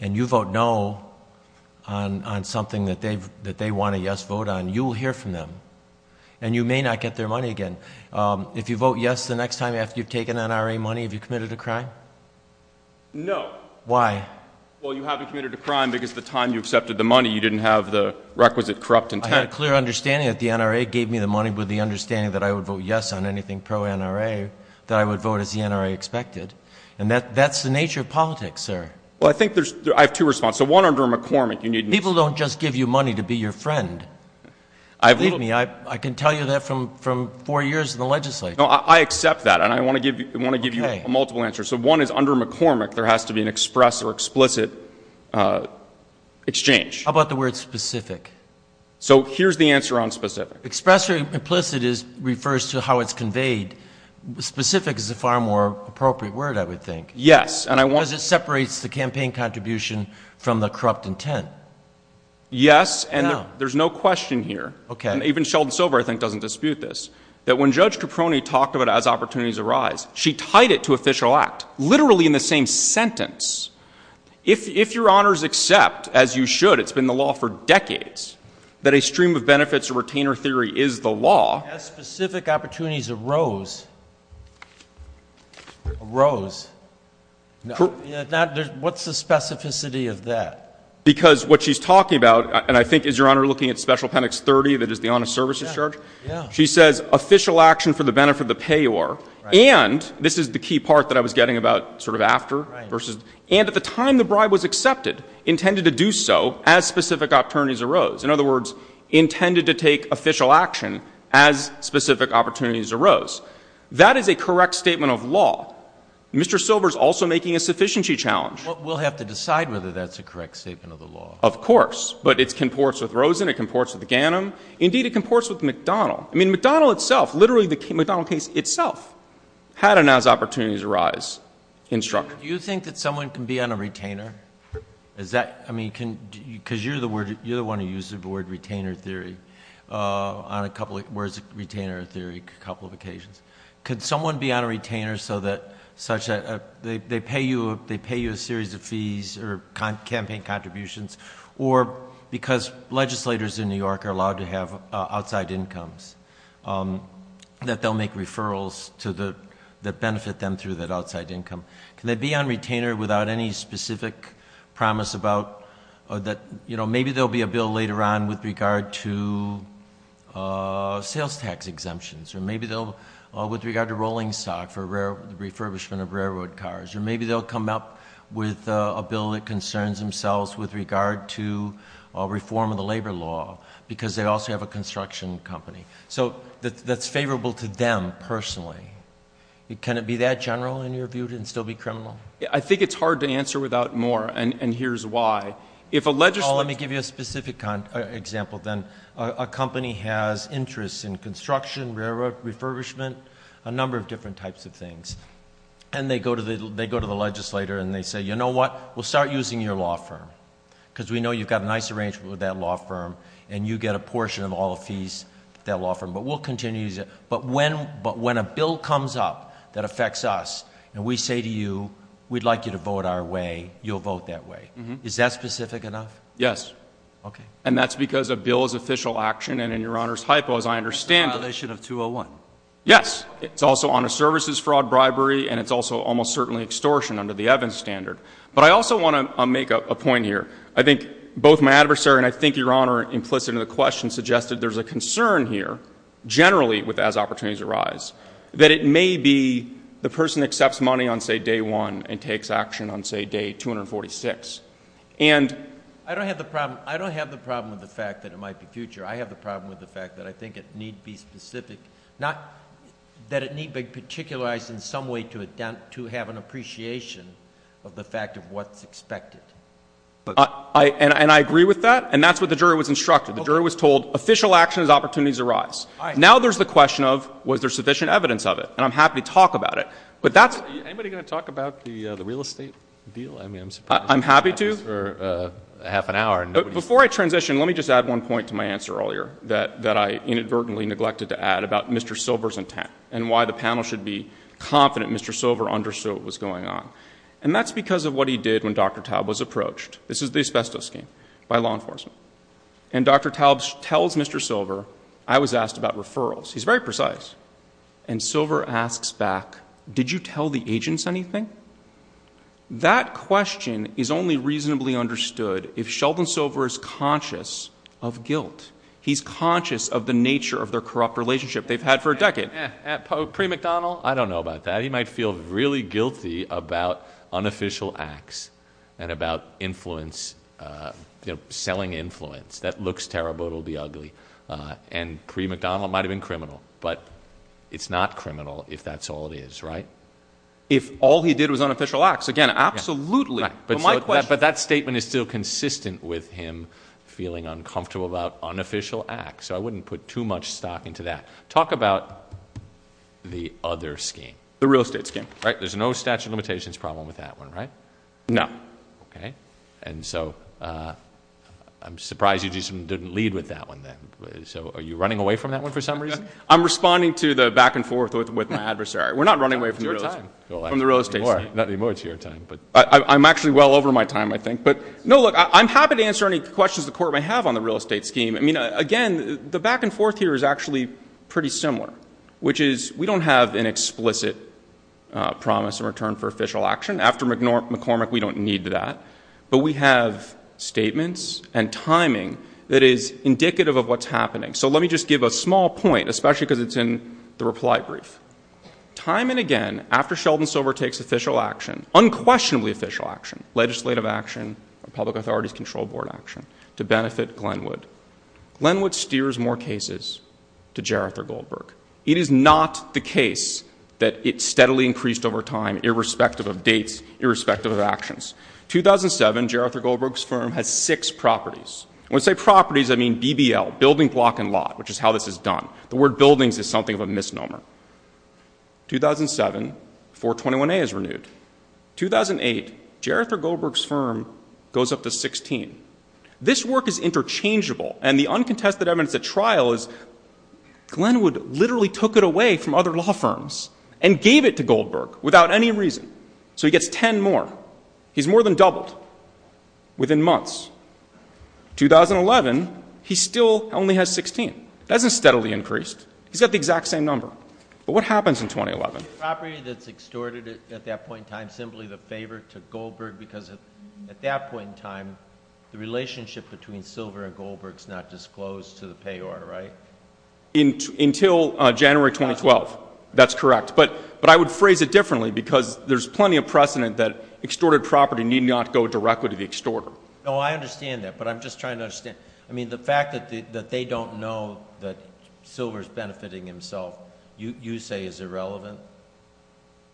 and you vote no on something that they want a yes vote on. You will hear from them, and you may not get their money again. If you vote yes the next time after you've taken NRA money, have you committed a crime? No. Why? Well, you haven't committed a crime because the time you accepted the money, you didn't have the requisite corrupt intent. I had a clear understanding that the NRA gave me the money with the understanding that I would vote yes on anything pro-NRA, that I would vote as the NRA expected, and that's the nature of politics, sir. Well, I think there's – I have two responses. One, under McCormick, you need – People don't just give you money to be your friend. Believe me, I can tell you that from four years in the legislature. No, I accept that, and I want to give you a multiple answer. So one is under McCormick, there has to be an express or explicit exchange. How about the word specific? So here's the answer on specific. Express or implicit refers to how it's conveyed. Specific is a far more appropriate word, I would think. Yes, and I want – Because it separates the campaign contribution from the corrupt intent. Yes, and there's no question here. Okay. Even Sheldon Silver, I think, doesn't dispute this, that when Judge Caproni talked about it as opportunities arise, she tied it to official act, literally in the same sentence. If Your Honors accept, as you should, it's been the law for decades, that a stream of benefits or retainer theory is the law. Yes, specific opportunities arose. Arose. Now, what's the specificity of that? Because what she's talking about, and I think, is Your Honor looking at special appendix 30, that is the honest services charge? Yeah, yeah. She says official action for the benefit of the payor, and this is the key part that I was getting about sort of after versus – and at the time the bribe was accepted, intended to do so as specific opportunities arose. In other words, intended to take official action as specific opportunities arose. That is a correct statement of law. Mr. Silver's also making a sufficiency challenge. We'll have to decide whether that's a correct statement of the law. Of course. But it comports with Rosen, it comports with Ganim. Indeed, it comports with McDonald. I mean, McDonald itself, literally the McDonald case itself had an as opportunities arise. Do you think that someone can be on a retainer? I mean, because you're the one who used the word retainer theory on a couple of occasions. Could someone be on a retainer so that they pay you a series of fees or campaign contributions, or because legislators in New York are allowed to have outside incomes, that they'll make referrals that benefit them through that outside income? Can they be on retainer without any specific promise about – that maybe there will be a bill later on with regard to sales tax exemptions, or maybe with regard to rolling stock for refurbishment of railroad cars, or maybe they'll come up with a bill that concerns themselves with regard to reform of the labor law because they also have a construction company. So that's favorable to them personally. Can it be that general in your view and still be criminal? I think it's hard to answer without more, and here's why. If a legislator – Well, let me give you a specific example then. A company has interests in construction, railroad refurbishment, a number of different types of things, and they go to the legislator and they say, you know what, we'll start using your law firm because we know you've got a nice arrangement with that law firm, and you get a portion of all the fees with that law firm, but we'll continue to use it. But when a bill comes up that affects us and we say to you, we'd like you to vote our way, you'll vote that way. Is that specific enough? Yes. Okay. And that's because a bill is official action, and in Your Honor's hypo, as I understand – A violation of 201. Yes. It's also on a services fraud bribery, and it's also almost certainly extortion under the Evans standard. But I also want to make a point here. I think both my adversary and I think Your Honor implicit in the question suggested there's a concern here, generally as opportunities arise, that it may be the person accepts money on, say, day one and takes action on, say, day 246. And – I don't have the problem with the fact that it might be future. I have the problem with the fact that I think it need be specific, not that it need be particularized in some way to have an appreciation of the fact of what's expected. And I agree with that, and that's what the jury was instructed. The jury was told official action as opportunities arise. Now there's the question of was there sufficient evidence of it, and I'm happy to talk about it. But that's – Is anybody going to talk about the real estate deal? I mean, I'm surprised – I'm happy to. Before I transition, let me just add one point to my answer earlier that I inadvertently neglected to add about Mr. Silver's intent and why the panel should be confident Mr. Silver understood what was going on. And that's because of what he did when Dr. Taub was approached. This is the asbestos scheme by law enforcement. And Dr. Taub tells Mr. Silver, I was asked about referrals. He's very precise. And Silver asks back, did you tell the agents anything? That question is only reasonably understood if Sheldon Silver is conscious of guilt. He's conscious of the nature of their corrupt relationship they've had for a decade. At pre-McDonnell, I don't know about that. He might feel really guilty about unofficial acts and about influence, selling influence. That looks terrible. It'll be ugly. And pre-McDonnell, it might have been criminal. But it's not criminal if that's all it is, right? If all he did was unofficial acts, again, absolutely. But my question is. But that statement is still consistent with him feeling uncomfortable about unofficial acts. So I wouldn't put too much stock into that. Talk about the other scheme. The real estate scheme. Right. There's no statute of limitations problem with that one, right? No. Okay. And so I'm surprised you just didn't lead with that one then. So are you running away from that one for some reason? I'm responding to the back and forth with my adversary. We're not running away from the real estate scheme. Not anymore it's your time. I'm actually well over my time, I think. No, look, I'm happy to answer any questions the Court may have on the real estate scheme. I mean, again, the back and forth here is actually pretty similar, which is we don't have an explicit promise in return for official action. After McCormick, we don't need that. But we have statements and timing that is indicative of what's happening. So let me just give a small point, especially because it's in the reply brief. Time and again, after Sheldon Silver takes official action, unquestionably official action, legislative action, public authorities control board action, to benefit Glenwood, Glenwood steers more cases to Gerrith or Goldberg. It is not the case that it steadily increased over time irrespective of dates, irrespective of actions. 2007, Gerrith or Goldberg's firm has six properties. When I say properties, I mean BBL, building, block, and lot, which is how this is done. The word buildings is something of a misnomer. 2007, 421A is renewed. 2008, Gerrith or Goldberg's firm goes up to 16. This work is interchangeable, and the uncontested evidence at trial is Glenwood literally took it away from other law firms and gave it to Goldberg without any reason. So he gets 10 more. He's more than doubled within months. 2011, he still only has 16. That hasn't steadily increased. He's got the exact same number. But what happens in 2011? The property that's extorted at that point in time is simply the favor to Goldberg because at that point in time, the relationship between Silver and Goldberg is not disclosed to the payor, right? Until January 2012. That's correct. But I would phrase it differently because there's plenty of precedent that extorted property need not go directly to the extorter. No, I understand that, but I'm just trying to understand. I mean, the fact that they don't know that Silver is benefiting himself you say is irrelevant.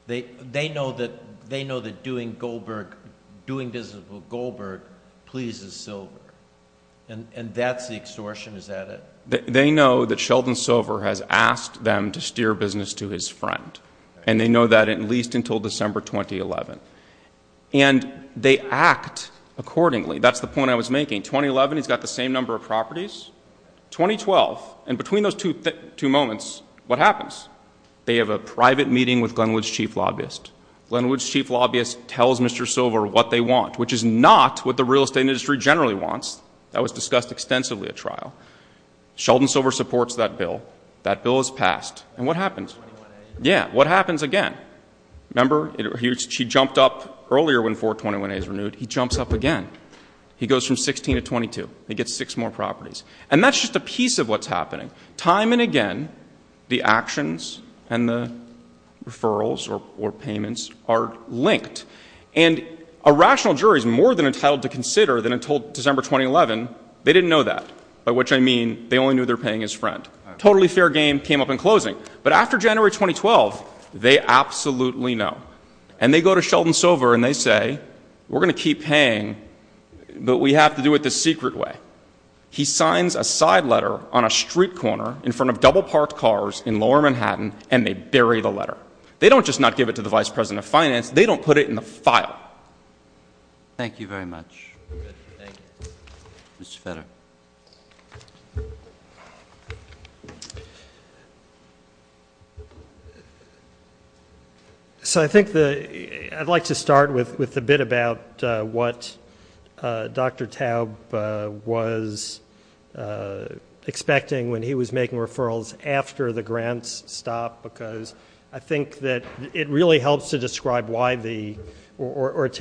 They know that doing business with Goldberg pleases Silver, and that's the extortion. Is that it? They know that Sheldon Silver has asked them to steer business to his friend, and they know that at least until December 2011. And they act accordingly. That's the point I was making. 2011, he's got the same number of properties. 2012, and between those two moments, what happens? They have a private meeting with Glenwood's chief lobbyist. Glenwood's chief lobbyist tells Mr. Silver what they want, which is not what the real estate industry generally wants. That was discussed extensively at trial. Sheldon Silver supports that bill. That bill is passed. And what happens? Yeah, what happens again? Remember, he jumped up earlier when 421A is renewed. He jumps up again. He goes from 16 to 22. He gets six more properties. And that's just a piece of what's happening. Time and again, the actions and the referrals or payments are linked. And a rational jury is more than entitled to consider that until December 2011 they didn't know that, by which I mean they only knew they were paying his friend. Totally fair game came up in closing. But after January 2012, they absolutely know. And they go to Sheldon Silver and they say, we're going to keep paying, but we have to do it the secret way. He signs a side letter on a street corner in front of double-parked cars in lower Manhattan, and they bury the letter. They don't just not give it to the vice president of finance. They don't put it in the file. Thank you very much. Mr. Federer. So I think I'd like to start with a bit about what Dr. Taub was expecting when he was making referrals after the grants stopped, because I think that it really helps to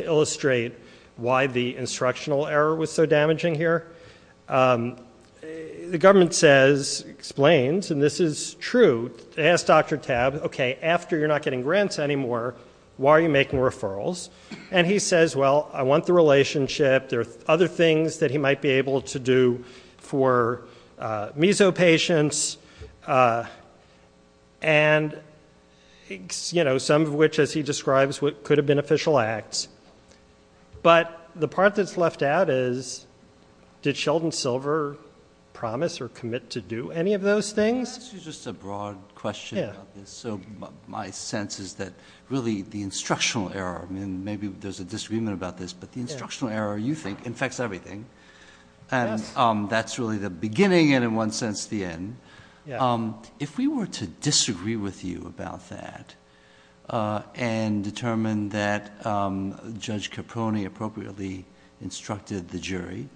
illustrate why the instructional error was so damaging here. The government says, explains, and this is true, to ask Dr. Taub, okay, after you're not getting grants anymore, why are you making referrals? And he says, well, I want the relationship. There are other things that he might be able to do for meso patients, and, you know, some of which, as he describes, could have been official acts. But the part that's left out is, did Sheldon Silver promise or commit to do any of those things? Can I ask you just a broad question about this? So my sense is that really the instructional error, I mean, maybe there's a disagreement about this, but the instructional error, you think, infects everything. And that's really the beginning and, in one sense, the end. If we were to disagree with you about that and determine that Judge Caproni appropriately instructed the jury,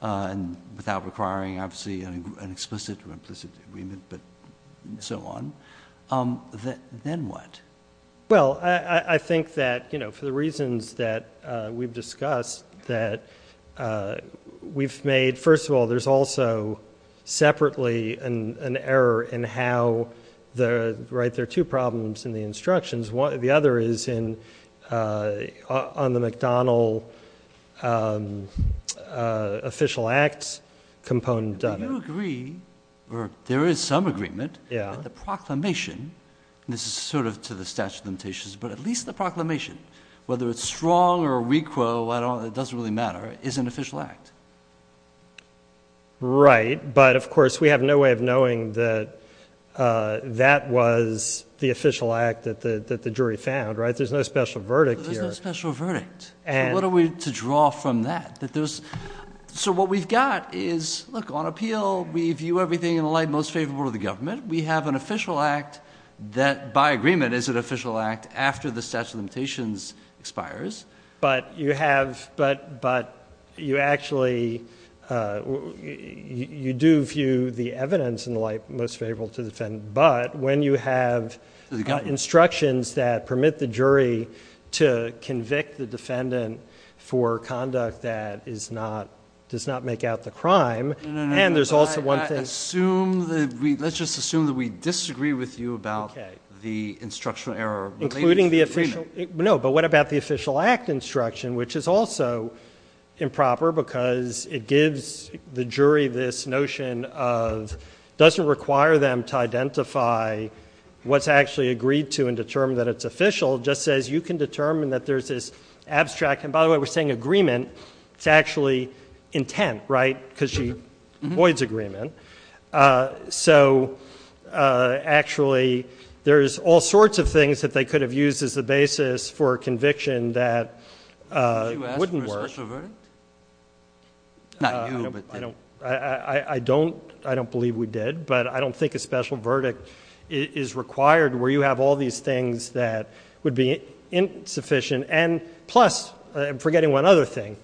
without requiring, obviously, an explicit or implicit agreement and so on, then what? Well, I think that, you know, for the reasons that we've discussed, that we've made, first of all, there's also separately an error in how there are two problems in the instructions. The other is on the McDonnell official acts component of it. Do you agree, or there is some agreement, that the proclamation, and this is sort of to the statute of limitations, but at least the proclamation, whether it's strong or weak or it doesn't really matter, is an official act? Right. But, of course, we have no way of knowing that that was the official act that the jury found, right? There's no special verdict here. There's no special verdict. What are we to draw from that? So what we've got is, look, on appeal, we view everything in the light most favorable to the government. We have an official act that, by agreement, is an official act after the statute of limitations expires. But you have, but you actually, you do view the evidence in the light most favorable to the defendant. But when you have instructions that permit the jury to convict the defendant for conduct that is not, does not make out the crime. No, no, no. And there's also one thing. Let's just assume that we disagree with you about the instructional error. Including the official, no, but what about the official act instruction, which is also improper, because it gives the jury this notion of, doesn't require them to identify what's actually agreed to and determine that it's official. Just says you can determine that there's this abstract, and by the way, we're saying agreement. It's actually intent, right? Because she avoids agreement. So, actually, there's all sorts of things that they could have used as the basis for a conviction that wouldn't work. Did you ask for a special verdict? Not you, but. I don't, I don't believe we did, but I don't think a special verdict is required where you have all these things that would be insufficient. And, plus, I'm forgetting one other thing.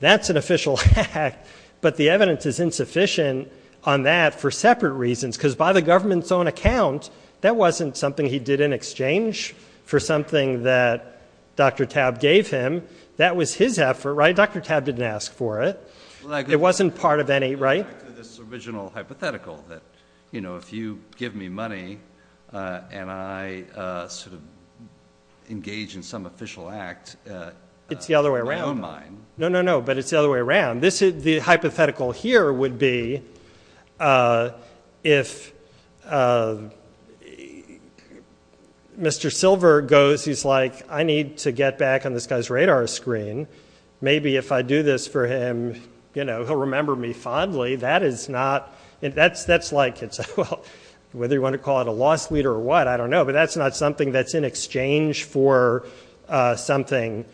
That's an official act, but the evidence is insufficient on that for separate reasons. Because by the government's own account, that wasn't something he did in exchange for something that Dr. Tabb gave him. That was his effort, right? Dr. Tabb didn't ask for it. It wasn't part of any, right? This original hypothetical that, you know, if you give me money and I sort of engage in some official act. It's the other way around. No, no, no, but it's the other way around. The hypothetical here would be if Mr. Silver goes, he's like, I need to get back on this guy's radar screen. Maybe if I do this for him, you know, he'll remember me fondly. That's like, well, whether you want to call it a loss leader or what, I don't know. But that's not something that's in exchange for something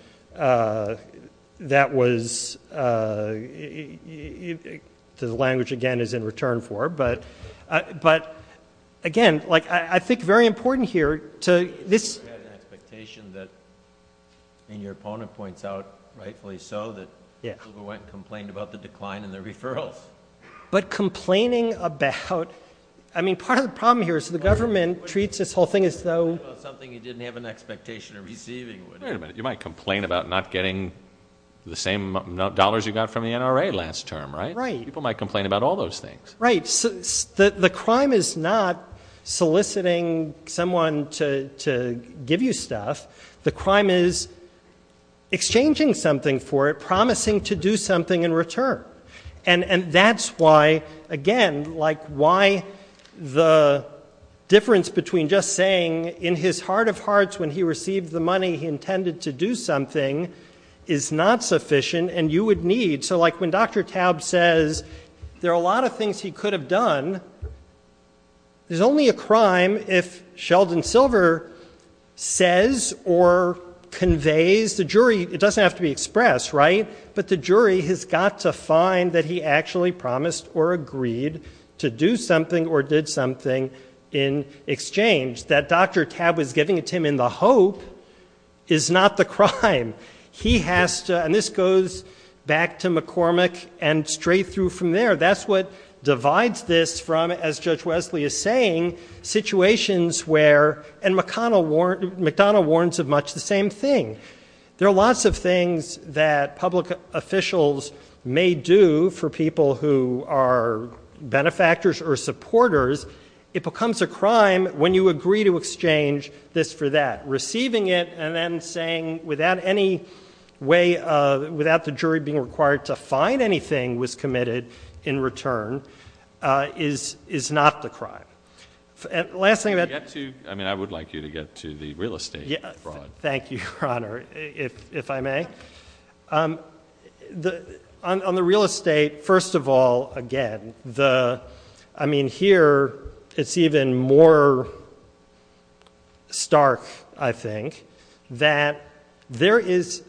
that was, the language, again, is in return for. But, again, like I think very important here to this. You have an expectation that, and your opponent points out rightfully so, that Silver went and complained about the decline in the referrals. But complaining about, I mean, part of the problem here is the government treats this whole thing as though. Something he didn't have an expectation of receiving. Wait a minute, you might complain about not getting the same dollars you got from the NRA last term, right? Right. People might complain about all those things. Right. The crime is not soliciting someone to give you stuff. The crime is exchanging something for it, promising to do something in return. And that's why, again, like why the difference between just saying in his heart of hearts when he received the money he intended to do something is not sufficient and you would need. So, like when Dr. Taub says there are a lot of things he could have done, there's only a crime if Sheldon Silver says or conveys. The jury, it doesn't have to be expressed, right? But the jury has got to find that he actually promised or agreed to do something or did something in exchange. That Dr. Taub was giving it to him in the hope is not the crime. He has to, and this goes back to McCormick and straight through from there, that's what divides this from, as Judge Wesley is saying, situations where, and McDonough warns of much the same thing. There are lots of things that public officials may do for people who are benefactors or supporters. It becomes a crime when you agree to exchange this for that. Receiving it and then saying without any way, without the jury being required to find anything was committed in return is not the crime. Last thing that- I mean, I would like you to get to the real estate fraud. Thank you, Your Honor, if I may. On the real estate, first of all, again, I mean, here it's even more stark, I think, that there is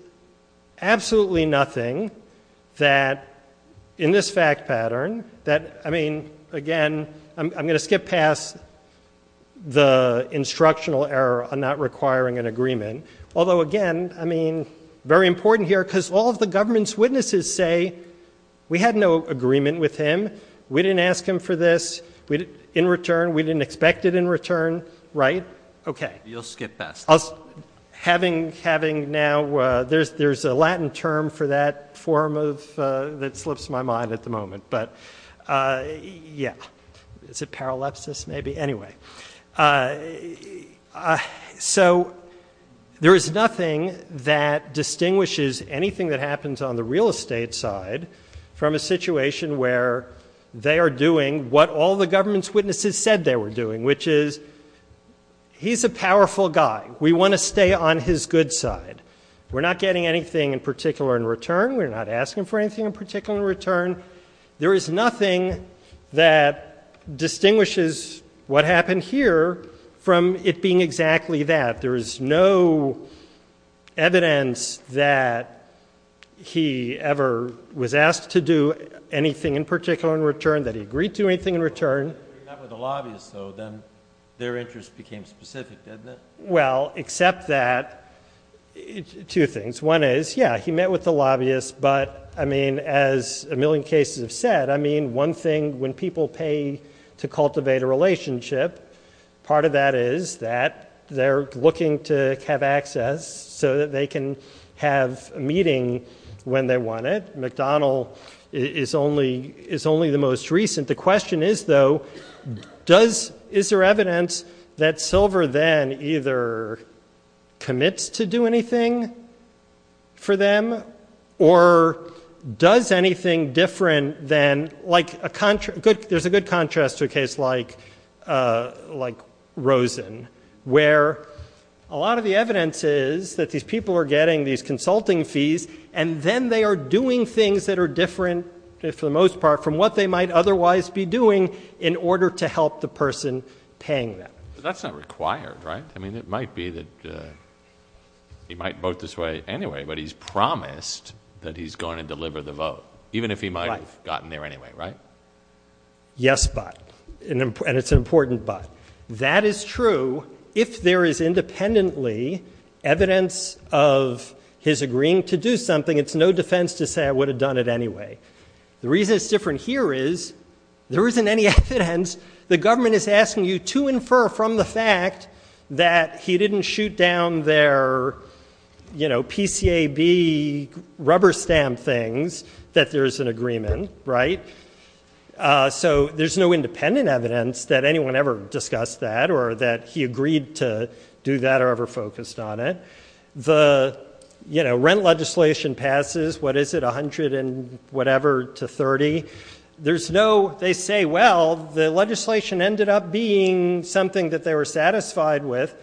absolutely nothing that in this fact pattern that, I mean, again, I'm going to skip past the instructional error on not requiring an agreement. Although, again, I mean, very important here because all of the government's witnesses say, we had no agreement with him. We didn't ask him for this. In return, we didn't expect it in return, right? Okay. You'll skip past that. Having now, there's a Latin term for that form of, that slips my mind at the moment. But, yeah. Is it paralepsis, maybe? Anyway. So, there is nothing that distinguishes anything that happens on the real estate side from a situation where they are doing what all the government's witnesses said they were doing, which is, he's a powerful guy. We want to stay on his good side. We're not getting anything in particular in return. We're not asking for anything in particular in return. There is nothing that distinguishes what happened here from it being exactly that. There is no evidence that he ever was asked to do anything in particular in return, that he agreed to anything in return. If he met with the lobbyists, though, then their interest became specific, didn't it? Well, except that, two things. One is, yeah, he met with the lobbyists, but, I mean, as a million cases have said, I mean, one thing, when people pay to cultivate a relationship, part of that is that they're looking to have access so that they can have a meeting when they want it. McDonald is only the most recent. The question is, though, is there evidence that Silver then either commits to do anything for them or does anything different than, like, there's a good contrast to a case like Rosen, where a lot of the evidence is that these people are getting these consulting fees, and then they are doing things that are different, for the most part, from what they might otherwise be doing in order to help the person paying them. But that's not required, right? I mean, it might be that he might vote this way anyway, but he's promised that he's going to deliver the vote, even if he might have gotten there anyway, right? Yes, but, and it's an important but. That is true if there is independently evidence of his agreeing to do something. It's no defense to say I would have done it anyway. The reason it's different here is there isn't any evidence. The government is asking you to infer from the fact that he didn't shoot down their, you know, PCAB rubber stamp things that there is an agreement, right? So there's no independent evidence that anyone ever discussed that or that he agreed to do that or ever focused on it. The, you know, rent legislation passes, what is it, 100 and whatever to 30. There's no, they say, well, the legislation ended up being something that they were satisfied with,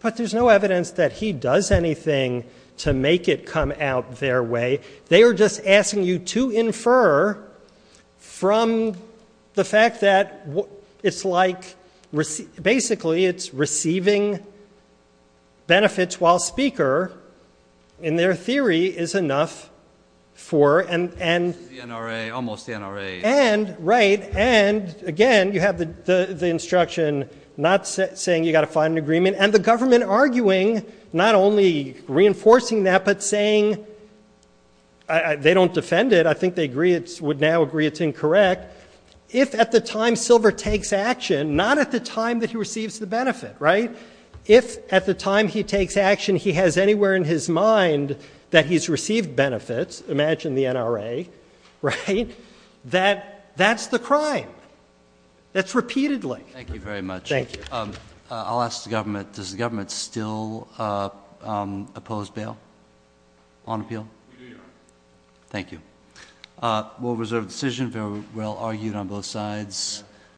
but there's no evidence that he does anything to make it come out their way. They were just asking you to infer from the fact that it's like, basically, it's receiving benefits while Speaker, in their theory, is enough for, and. The NRA, almost the NRA. And right. And again, you have the instruction not saying you got to find an agreement and the government arguing, not only reinforcing that, but saying. They don't defend it. I think they agree it's would now agree it's incorrect. If at the time silver takes action, not at the time that he receives the benefit. Right. If at the time he takes action, he has anywhere in his mind that he's received benefits. Imagine the NRA. Right. That that's the crime. That's repeatedly. Thank you very much. Thank you. I'll ask the government. Does the government still oppose bail on appeal? Thank you. Well, reserve decision. Very well argued on both sides.